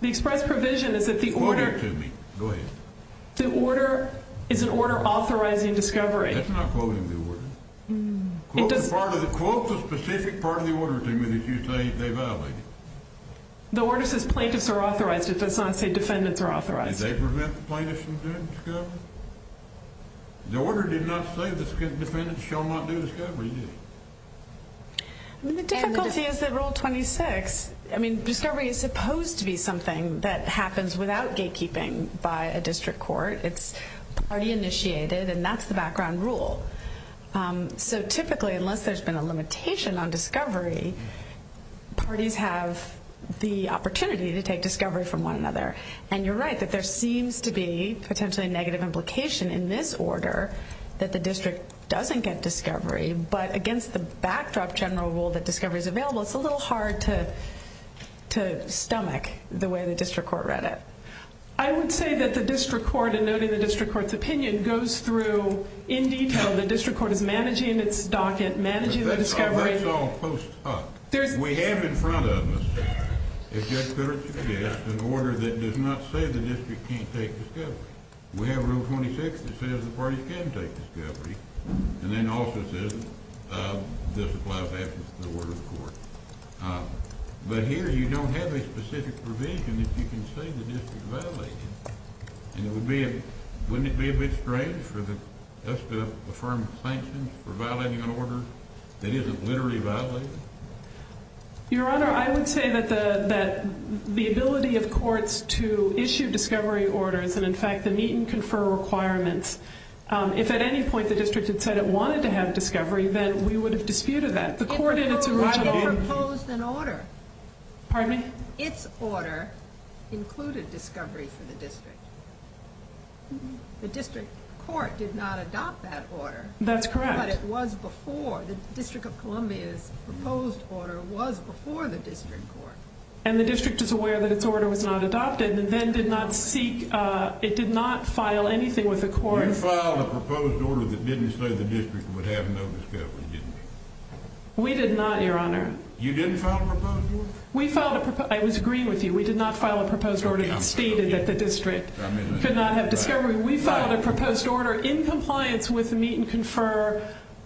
The express provision is that the order- Quote it to me. Go ahead. The order is an order authorizing discovery. That's not quoting the order. Quote the specific part of the order to me if you say they violated it. The order says plaintiffs are authorized. It does not say defendants are authorized. And they prevent the plaintiffs from doing discovery? The order did not say that defendants shall not do discovery, did it? The difficulty is that Rule 26, I mean, discovery is supposed to be something that happens without gatekeeping by a district court. It's already initiated, and that's the background rule. So typically, unless there's been a limitation on discovery, parties have the opportunity to take discovery from one another. And you're right that there seems to be potentially a negative implication in this order that the district doesn't get discovery. But against the backdrop general rule that discovery is available, it's a little hard to stomach the way the district court read it. I would say that the district court, and noting the district court's opinion, goes through in detail. The district court is managing its docket, managing the discovery. We have in front of us an order that does not say the district can't take discovery. We have Rule 26 that says the parties can take discovery, and then also says it doesn't apply back to the order of the court. But here you don't have a specific provision that you can say the district violated. Wouldn't it be a bit strange for the district to affirm sanctions for violating an order that isn't literally violated? Your Honor, I would say that the ability of courts to issue discovery orders and, in fact, to meet and confer requirements, if at any point the district had said it wanted to have discovery, then we would have disputed that. The court did not propose an order. Pardon me? Its order included discovery for the district. The district court did not adopt that order. That's correct. But it was before. The District of Columbia's proposed order was before the district court. And the district is aware that its order was not adopted and then did not seek, it did not file anything with the court. Did you file a proposed order that didn't say the district would have no discovery? We did not, Your Honor. You didn't file a proposed order? I would agree with you. We did not file a proposed order stating that the district did not have discovery. We filed a proposed order in compliance with the meet and confer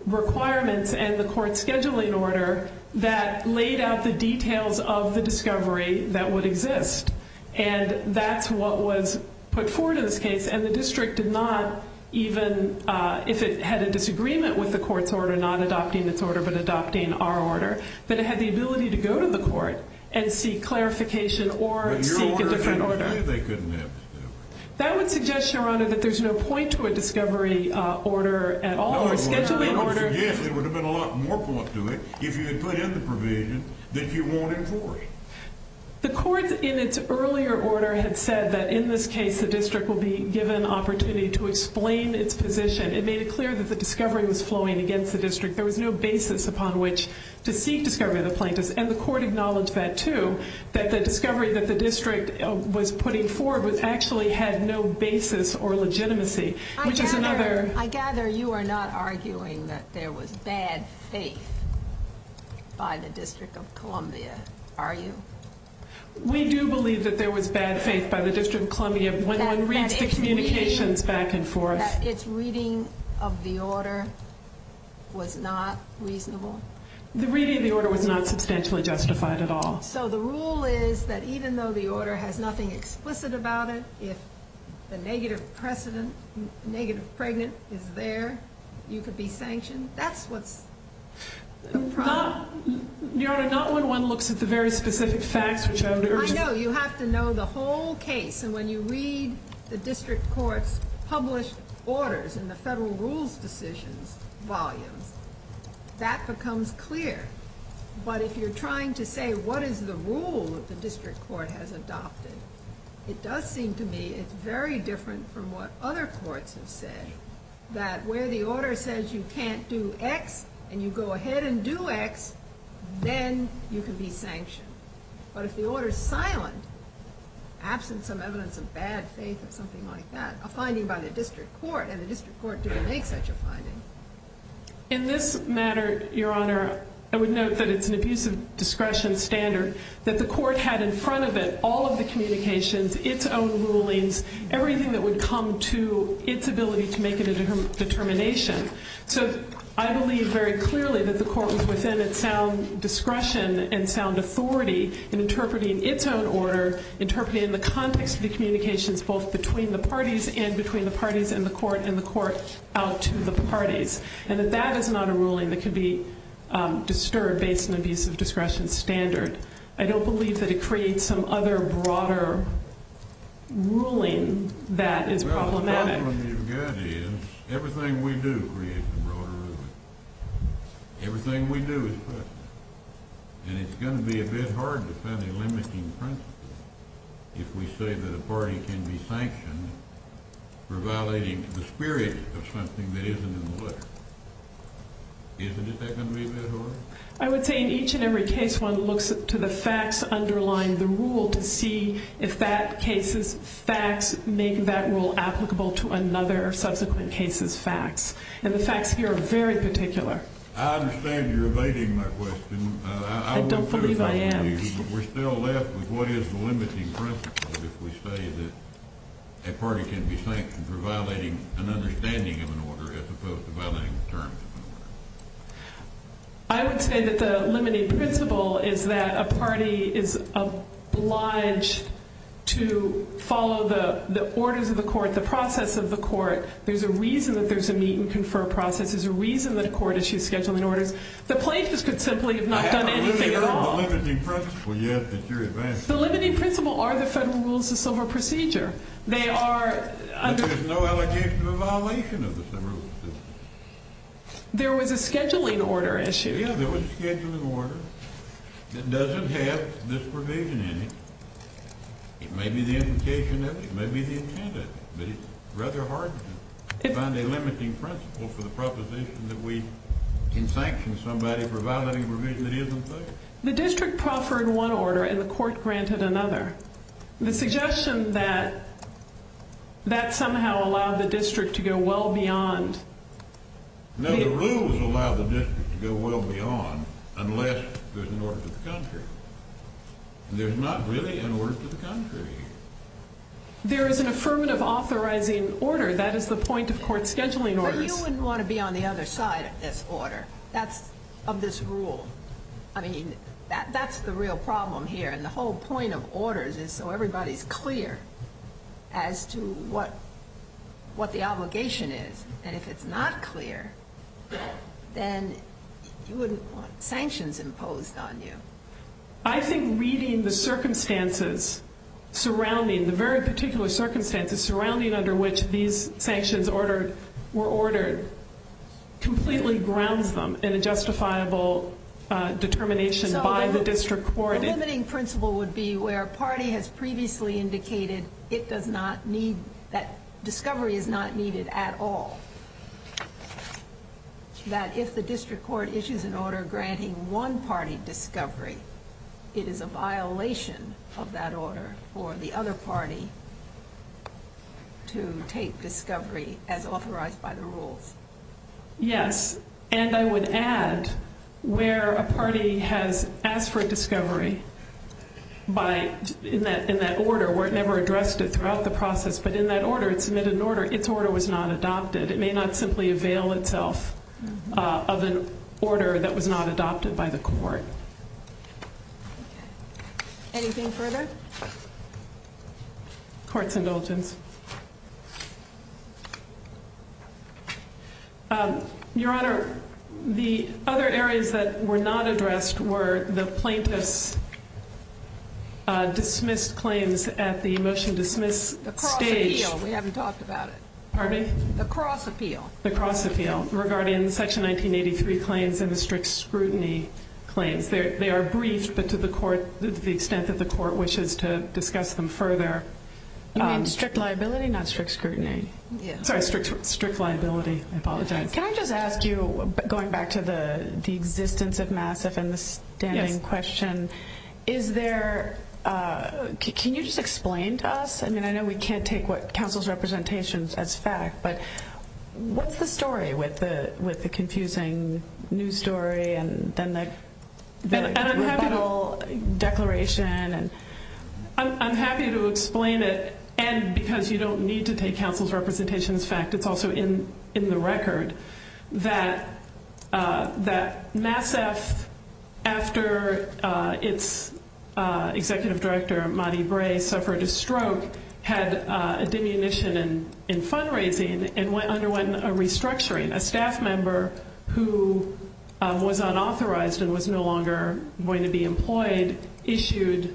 requirements and the court's scheduling order that laid out the details of the discovery that would exist. And that's what was put forward in this case. And the district did not even, if it had a disagreement with the court's order, not adopting this order, but adopting our order, that it had the ability to go to the court and seek clarification or seek a different order. But your order didn't say they couldn't have discovery. That would suggest, Your Honor, that there's no point to a discovery order at all. Yes, there would have been a lot more point to it if you had filed the provision that you won't have discovery. The court, in its earlier order, had said that, in this case, the district will be given opportunity to explain its position. It made it clear that the discovery was flowing against the district. There was no basis upon which to seek discovery of the plaintiff. And the court acknowledged that, too, that the discovery that the district was putting forward actually had no basis or legitimacy. I gather you are not arguing that there was bad faith by the District of Columbia, are you? We do believe that there was bad faith by the District of Columbia when one reads the communications back and forth. That its reading of the order was not reasonable? The reading of the order was not substantially justified at all. So the rule is that even though the order has nothing explicit about it, if the negative precedent, negative pregnancy is there, you could be sanctioned? That's what the problem is. Your Honor, not when one looks at the very specific facts which I've heard. I know. You have to know the whole case. And when you read the district court's published orders in the federal rules decision volume, that becomes clear. But if you're trying to say what is the rule that the district court has adopted, it does seem to me it's very different from what other courts have said. That where the order says you can't do X and you go ahead and do X, then you can be sanctioned. But if the order is silent, absent some evidence of bad faith or something like that, a finding by the district court, and the district court didn't make such a finding. In this matter, Your Honor, I would note that it's an abuse of discretion standard, that the court had in front of it all of the communications, its own rulings, everything that would come to its ability to make it a determination. So I believe very clearly that the court was within a sound discretion and sound authority in interpreting its own order, interpreting the context of the communications both between the parties and between the parties in the court and the courts out to the parties. And that that is not a ruling that could be disturbed based on an abuse of discretion standard. I don't believe that it creates some other broader ruling that is problematic. The problem with your judge is everything we do creates a broader ruling. Everything we do is good. And it's going to be a bit hard to find a limiting principle if we say that a party can be sanctioned for violating the spirit of something that isn't in the book. Isn't that going to be a bit hard? I would say in each and every case one looks to the facts underlying the rule to see if that case's facts make that rule applicable to another or subsequent case's facts. And the facts here are very particular. I understand you're evading my question. I don't believe I am. But we're still left with what is the limiting principle if we say that a party can be sanctioned for violating an understanding of an order as opposed to violating a term. I would say that the limiting principle is that a party is obliged to follow the orders of the court, the process of the court. There's a reason that there's a meet and confer process. There's a reason that a court issues scheduling orders. The places could simply not come into play at all. The limiting principle, yes, but you're evading my question. The limiting principle are the federal rules of civil procedure. There's no allegation of a violation of the civil procedure. There was a scheduling order issue. Yes, there was a scheduling order. It doesn't have disprovision in it. It may be the indication of it. It may be the intent of it. But it's rather hard to find a limiting principle for the proposition that we can sanction somebody for violating a provision that isn't there. The district proffered one order and the court granted another. The suggestion that that somehow allowed the district to go well beyond. No, the rules allow the district to go well beyond unless there's an order to the country. There's not really an order to the country. There is an affirmative authorizing order. That is the point of court scheduling orders. But you wouldn't want to be on the other side of this order, of this rule. I mean, that's the real problem here. And the whole point of orders is so everybody's clear as to what the obligation is. And if it's not clear, then you wouldn't want sanctions imposed on you. I think reading the circumstances surrounding, the very particular circumstances surrounding under which these sanctions were ordered completely grounds them in a justifiable determination by the district court. The limiting principle would be where a party has previously indicated it does not need, that discovery is not needed at all. That if the district court issues an order granting one party discovery, it is a violation of that order for the other party to take discovery as authorized by the rules. Yes. And I would add where a party has asked for discovery by, in that order, whatever addressed it throughout the process, but in that order, it submitted an order, its order was not adopted. It may not simply avail itself of an order that was not adopted by the court. Anything further? Court's in motion. Your Honor, the other areas that were not addressed were the plaintiff's dismissed claims at the motion dismiss stage. The cross ratio. We haven't talked about it. Pardon? The cross appeal. The cross appeal regarding Section 1983 claims and the strict scrutiny claims. They are brief, but to the court, the extent that the court wishes to discuss them further. You mean strict liability, not strict scrutiny? Yes. Sorry, strict liability. I apologize. Can I just ask you, going back to the existence of MASSIF and the standing question, is there, can you just explain to us? I mean, I know we can't take what counsel's representations as fact, but what's the story with the confusing news story and then the... And the technical declaration and... I'm happy to explain it, and because you don't need to take counsel's representations as fact, it's also in the record, that MASSIF, after its executive director, Monty Bray, suffered a stroke, had a diminution in fundraising and underwent a restructuring. A staff member who was unauthorized and was no longer going to be employed issued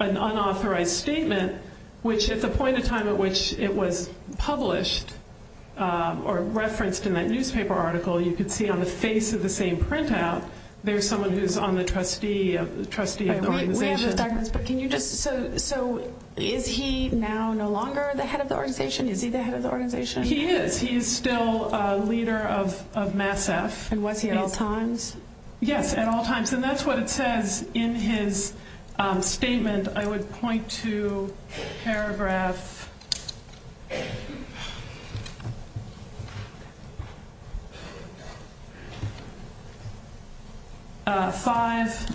an unauthorized statement, which at the point in time at which it was published or referenced in that newspaper article, you can see on the face of the same printout, there's someone who's on the trustee of the organization. We have the documents, but can you just, so is he now no longer the head of the organization? Is he the head of the organization? He is. He's still a leader of MASSIF. And was he at all times? Yes, at all times, and that's what it says in his statement. And I would point to paragraph five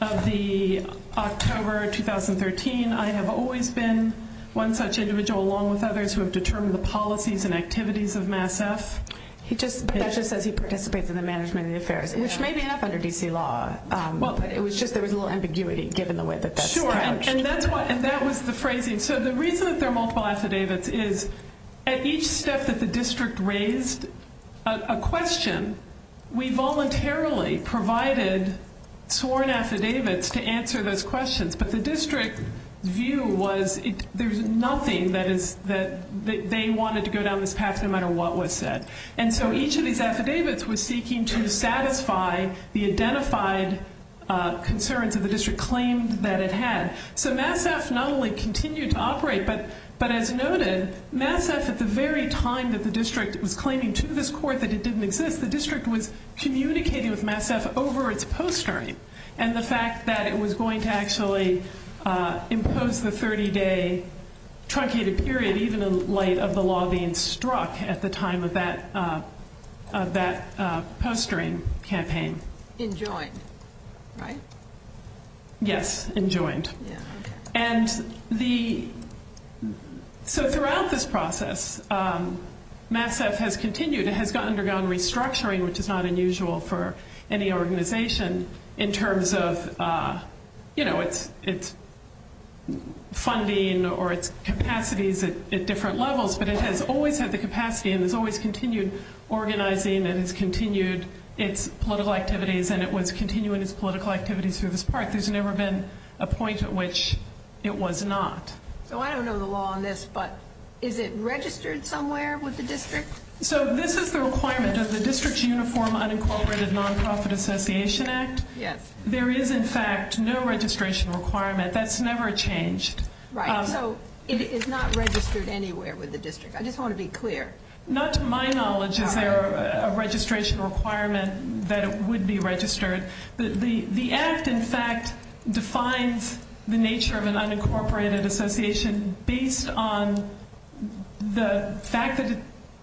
of the October 2013. I have always been one such individual, along with others, who have determined the policies and activities of MASSIF. He just says he participates in the management and affairs. Maybe that's under D.C. law. It was just there was a little ambiguity, given the way that that's phrased. Sure, and that was the phrasing. So the reason that there are multiple affidavits is at each step that the district raised a question, we voluntarily provided sworn affidavits to answer those questions. But the district view was there's nothing that they wanted to go down this path, no matter what was said. And so each of these affidavits was seeking to satisfy the identified concerns of the district claims that it had. So MASSIF not only continued to operate, but as noted, MASSIF at the very time that the district was claiming to this court that it didn't exist, the district was communicating with MASSIF over its posturing. And the fact that it was going to actually impose the 30-day truncated period, even in light of the law being struck at the time of that posturing campaign. In joint, right? Yes, in joint. And so throughout this process, MASSIF has continued, it has undergone restructuring, which is not unusual for any organization in terms of, you know, its funding or its capacities at different levels. But it has always had the capacity and has always continued organizing and has continued its political activities and it was continuing its political activities through this process. There's never been a point at which it was not. So I don't know the law on this, but is it registered somewhere with the district? So this is the requirement. Does the district's uniform unincorporated nonprofit association act? Yes. There is, in fact, no registration requirement. That's never changed. Right. So it is not registered anywhere with the district. I just want to be clear. Not to my knowledge is there a registration requirement that would be registered. The act, in fact, defines the nature of an unincorporated association based on the fact that it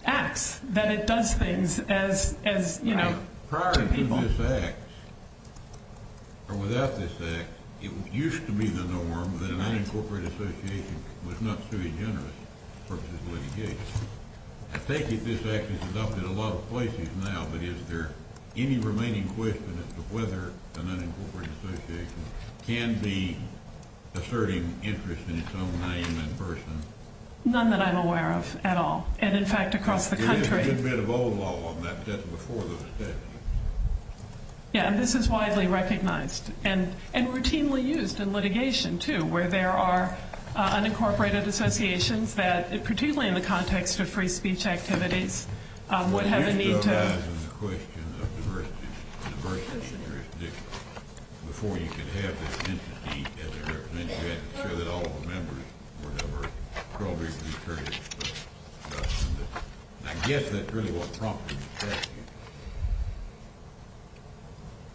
acts, that it does things as, you know. Prior to this act, or without this act, it used to be the norm that an unincorporated association was not suing interest versus litigation. I take it this act is adopted a lot of places now, but is there any remaining questions as to whether an unincorporated association can be asserting interest in its own name and person? None that I'm aware of at all. And, in fact, across the country. This is a good bit of old law, but that's before those steps. Yeah, and this is widely recognized and routinely used in litigation, too, where there are unincorporated associations that, particularly in the context of free speech activities, would have a need to...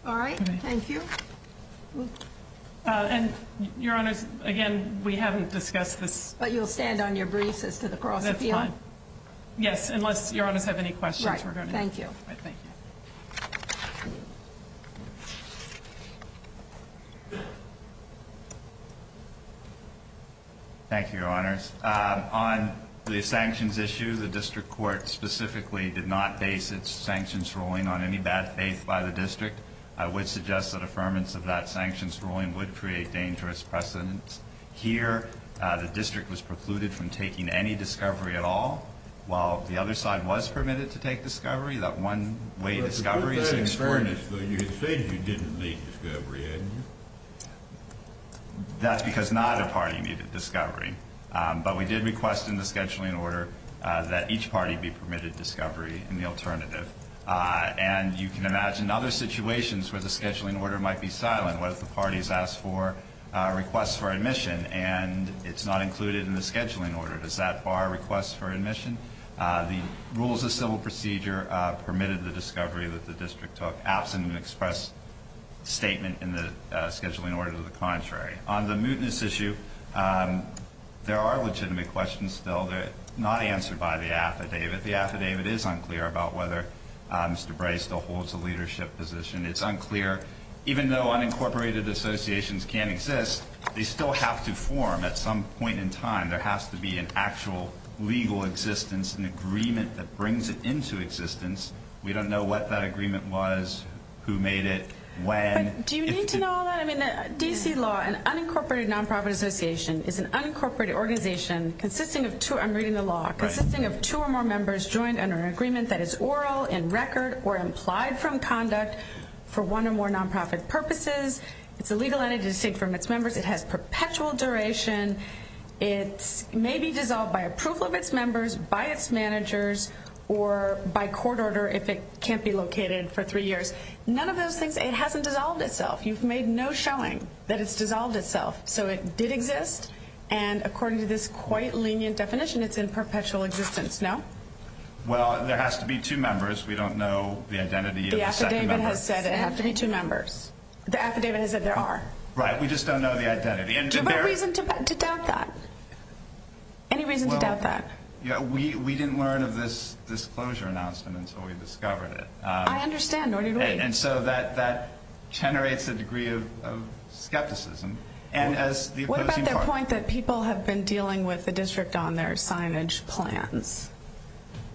All right. Thank you. And, Your Honor, again, we haven't discussed this. But you'll stand on your briefs as to the process? That's fine. Yes, unless Your Honor has any questions regarding this. Thank you. Thank you, Your Honor. On the sanctions issue, the district court specifically did not base its sanctions ruling on any bad faith by the district. I would suggest that affirmance of that sanctions ruling would create dangerous precedents. Here, the district was precluded from taking any discovery at all. While the other side was permitted to take discovery, that one-way discovery... But you said you didn't make discovery, didn't you? That's because not a party needed discovery. But we did request in the scheduling order that each party be permitted discovery in the alternative. And you can imagine other situations where the scheduling order might be silent, where the party has asked for a request for admission, and it's not included in the scheduling order. Does that bar requests for admission? The rules of civil procedure permitted the discovery that the district took, absent an express statement in the scheduling order to the contrary. On the mootness issue, there are legitimate questions still. They're not answered by the affidavit. The affidavit is unclear about whether Mr. Bray still holds a leadership position. It's unclear. Even though unincorporated associations can exist, they still have to form at some point in time. There has to be an actual legal existence, an agreement that brings it into existence. We don't know what that agreement was, who made it, when. Do you need to know all that? I mean, D.C. law, an unincorporated nonprofit association is an unincorporated organization consisting of two... I'm reading the law. Right. Consisting of two or more members joined under an agreement that is oral, in record, or implied from conduct for one or more nonprofit purposes. It's a legal entity for mixed members. It has perpetual duration. It may be dissolved by approval of its members, by its managers, or by court order if it can't be located for three years. None of those things... It hasn't dissolved itself. You've made no showing that it's dissolved itself. So it did exist, and according to this quite lenient definition, it's in perpetual existence. No? Well, there has to be two members. We don't know the identity of the second member. The affidavit has said it has to be two members. The affidavit has said there are. Right. We just don't know the identity. Do you have a reason to doubt that? Any reason to doubt that? Yeah, we didn't learn of this disclosure announcement until we discovered it. I understand. What do you mean? And so that generates a degree of skepticism, and as the opposing parties... What about that point that people have been dealing with the district on their signage plans?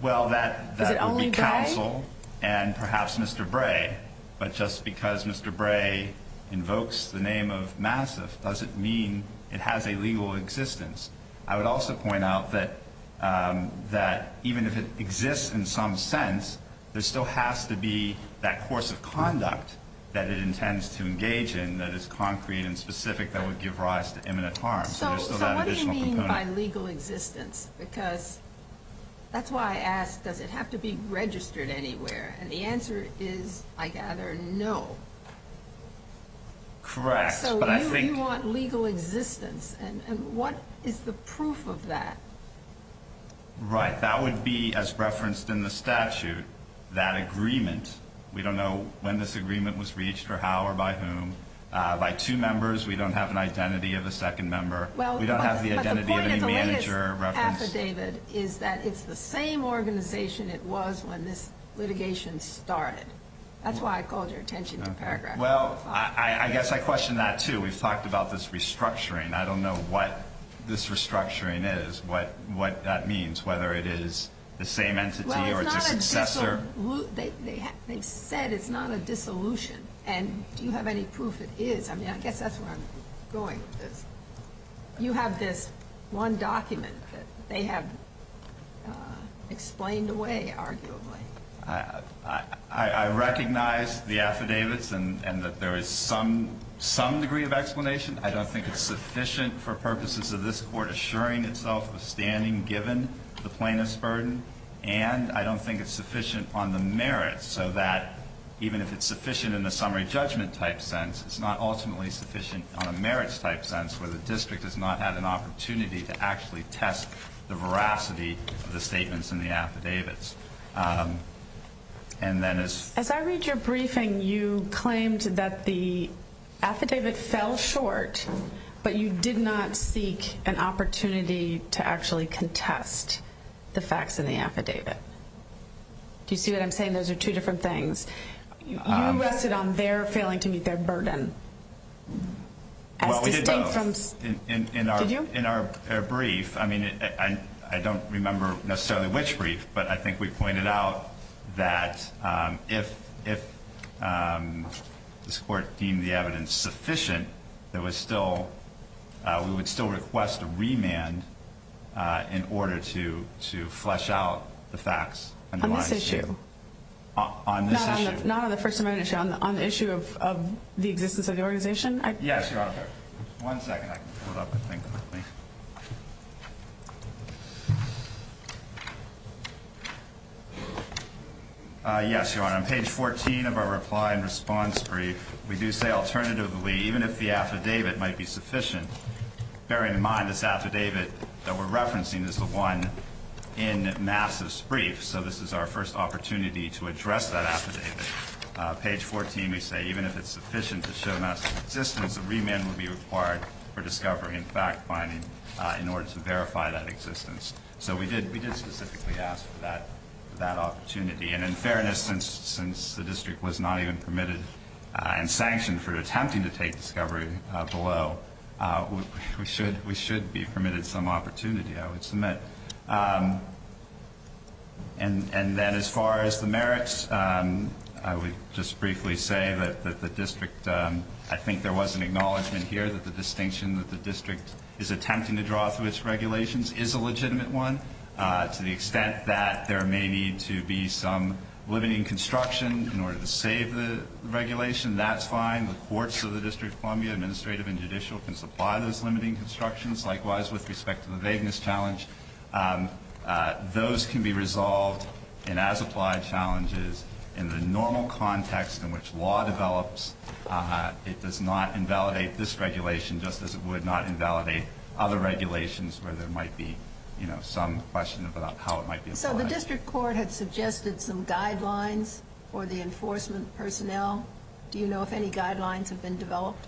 Well, that would be counsel and perhaps Mr. Bray, but just because Mr. Bray invokes the meaning, it has a legal existence. I would also point out that even if it exists in some sense, there still has to be that course of conduct that it intends to engage in that is concrete and specific that would give rise to imminent harm. So what do you mean by legal existence? Because that's why I asked, does it have to be registered anywhere? And the answer is, I gather, no. Correct. So you want legal existence, and what is the proof of that? Right. That would be as referenced in the statute, that agreement. We don't know when this agreement was reached or how or by whom. By two members, we don't have an identity of the second member. We don't have the identity of the manager referenced. Well, but the point of the litigant affidavit is that it's the same organization it was when this litigation started. That's why I called your attention to the paragraph. Well, I guess I question that, too. We've talked about this restructuring. I don't know what this restructuring is, what that means, whether it is the same entity or it's a successor. Well, it's not a dissolution. They said it's not a dissolution, and do you have any proof it is? I mean, I guess that's where I'm going with this. You have this one document that they have explained away, arguably. I recognize the affidavits and that there is some degree of explanation. I don't think it's sufficient for purposes of this Court assuring itself of standing given the plaintiff's burden, and I don't think it's sufficient on the merits so that even if it's sufficient in a summary judgment type sense, it's not ultimately sufficient on a merits type sense where the district has not had an opportunity to actually test the veracity of the statements in the affidavits. As I read your briefing, you claimed that the affidavits fell short, but you did not seek an opportunity to actually contest the facts in the affidavit. Do you see what I'm saying? Those are two different things. You rested on their failing to meet their burden. Well, we did both. Did you? In our brief, I mean, I don't remember necessarily which brief, but I think we pointed out that if this Court deemed the evidence sufficient, we would still request a remand in order to flesh out the facts underlying the issue. On this issue. On this issue. Not on the first amendment issue. On the issue of the existence of your organization. Yes, Your Honor. One second. I can pull up the thing, please. Yes, Your Honor. On page 14 of our reply and response brief, we do say alternatively, even if the affidavit might be sufficient, bearing in mind this affidavit that we're referencing is the one in Nass's brief, so this is our first opportunity to address that affidavit. Page 14, we say even if it's sufficient to show Nass's existence, a remand would be required for discovery and fact-finding in order to verify that existence. So we did specifically ask for that opportunity. And in fairness, since the district was not even permitted and sanctioned for attempting to take discovery below, we should be permitted some opportunity, I would submit. And then as far as the merits, I would just briefly say that the district, I think there was an acknowledgment here that the distinction that the district is attempting to draw through its regulations is a legitimate one. To the extent that there may need to be some limiting construction in order to save the regulation, that's fine. The courts of the District of Columbia, administrative and judicial, can supply those limiting constructions. Likewise, with respect to the vagueness challenge, those can be resolved. And as applied challenges, in the normal context in which law develops, it does not invalidate this regulation, just as it would not invalidate other regulations where there might be, you know, some questions about how it might be applied. So the district court has suggested some guidelines for the enforcement personnel. Do you know if any guidelines have been developed?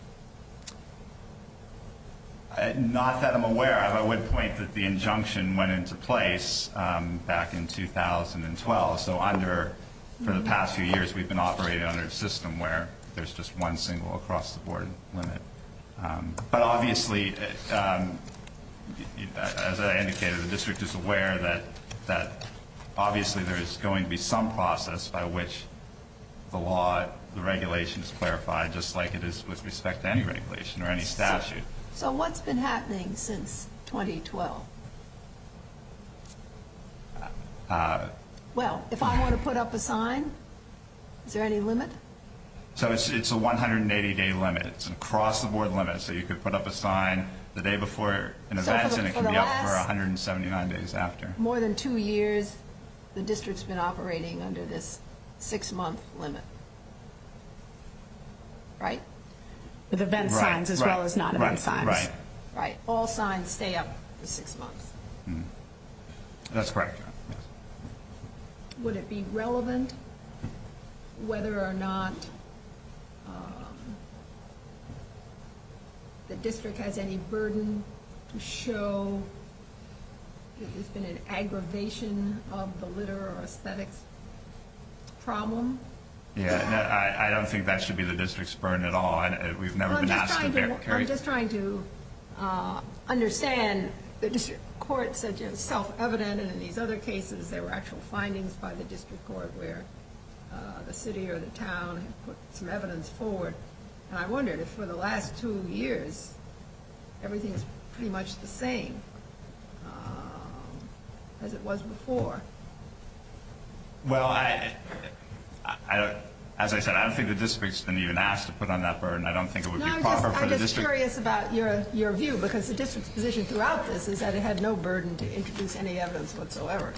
Not that I'm aware of. I would point that the injunction went into place back in 2012. So under, for the past few years, we've been operating under a system where there's just one single across the board limit. But obviously, as I indicated, the district is aware that obviously there is going to be some process by which the law, the regulation is clarified, just like it is with respect to any regulation or any statute. So what's been happening since 2012? Well, if I want to put up a sign, is there any limit? So it's a 180-day limit. It's across the board limit. So you could put up a sign the day before an event, and it can be up for 179 days after. More than two years, the district's been operating under this six-month limit. Right? With event times as well as not event times. Right. Right. All signs stay up for six months. That's correct. Would it be relevant whether or not the district has any burden to show if there's been an aggravation of the litter or aesthetic problem? Yeah. I don't think that should be the district's burden at all. We've never been asked to carry it. I'm just trying to understand. The district court said it was self-evident, and in these other cases, there were actual findings by the district court where the city or the town has put some evidence forward. And I wonder, just for the last two years, everything is pretty much the same as it was before. Well, as I said, I don't think the district's been even asked to put on that burden. I don't think it would be proper for the district... No, I'm just curious about your view, because the district's position throughout this is that it had no burden to introduce any evidence whatsoever.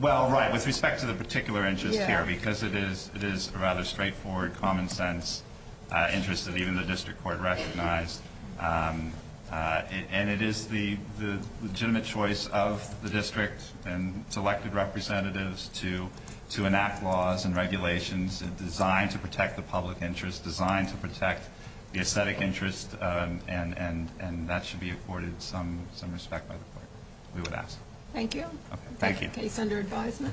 Well, right, with respect to the particular interest here, because it is a rather straightforward, common-sense interest that even the district court recognized. And it is the legitimate choice of the district and its elected representatives to enact laws and regulations designed to protect the public interest, designed to protect the aesthetic interest, and that should be afforded some respect by the court, we would ask. Thank you. Thank you. Case under advisement.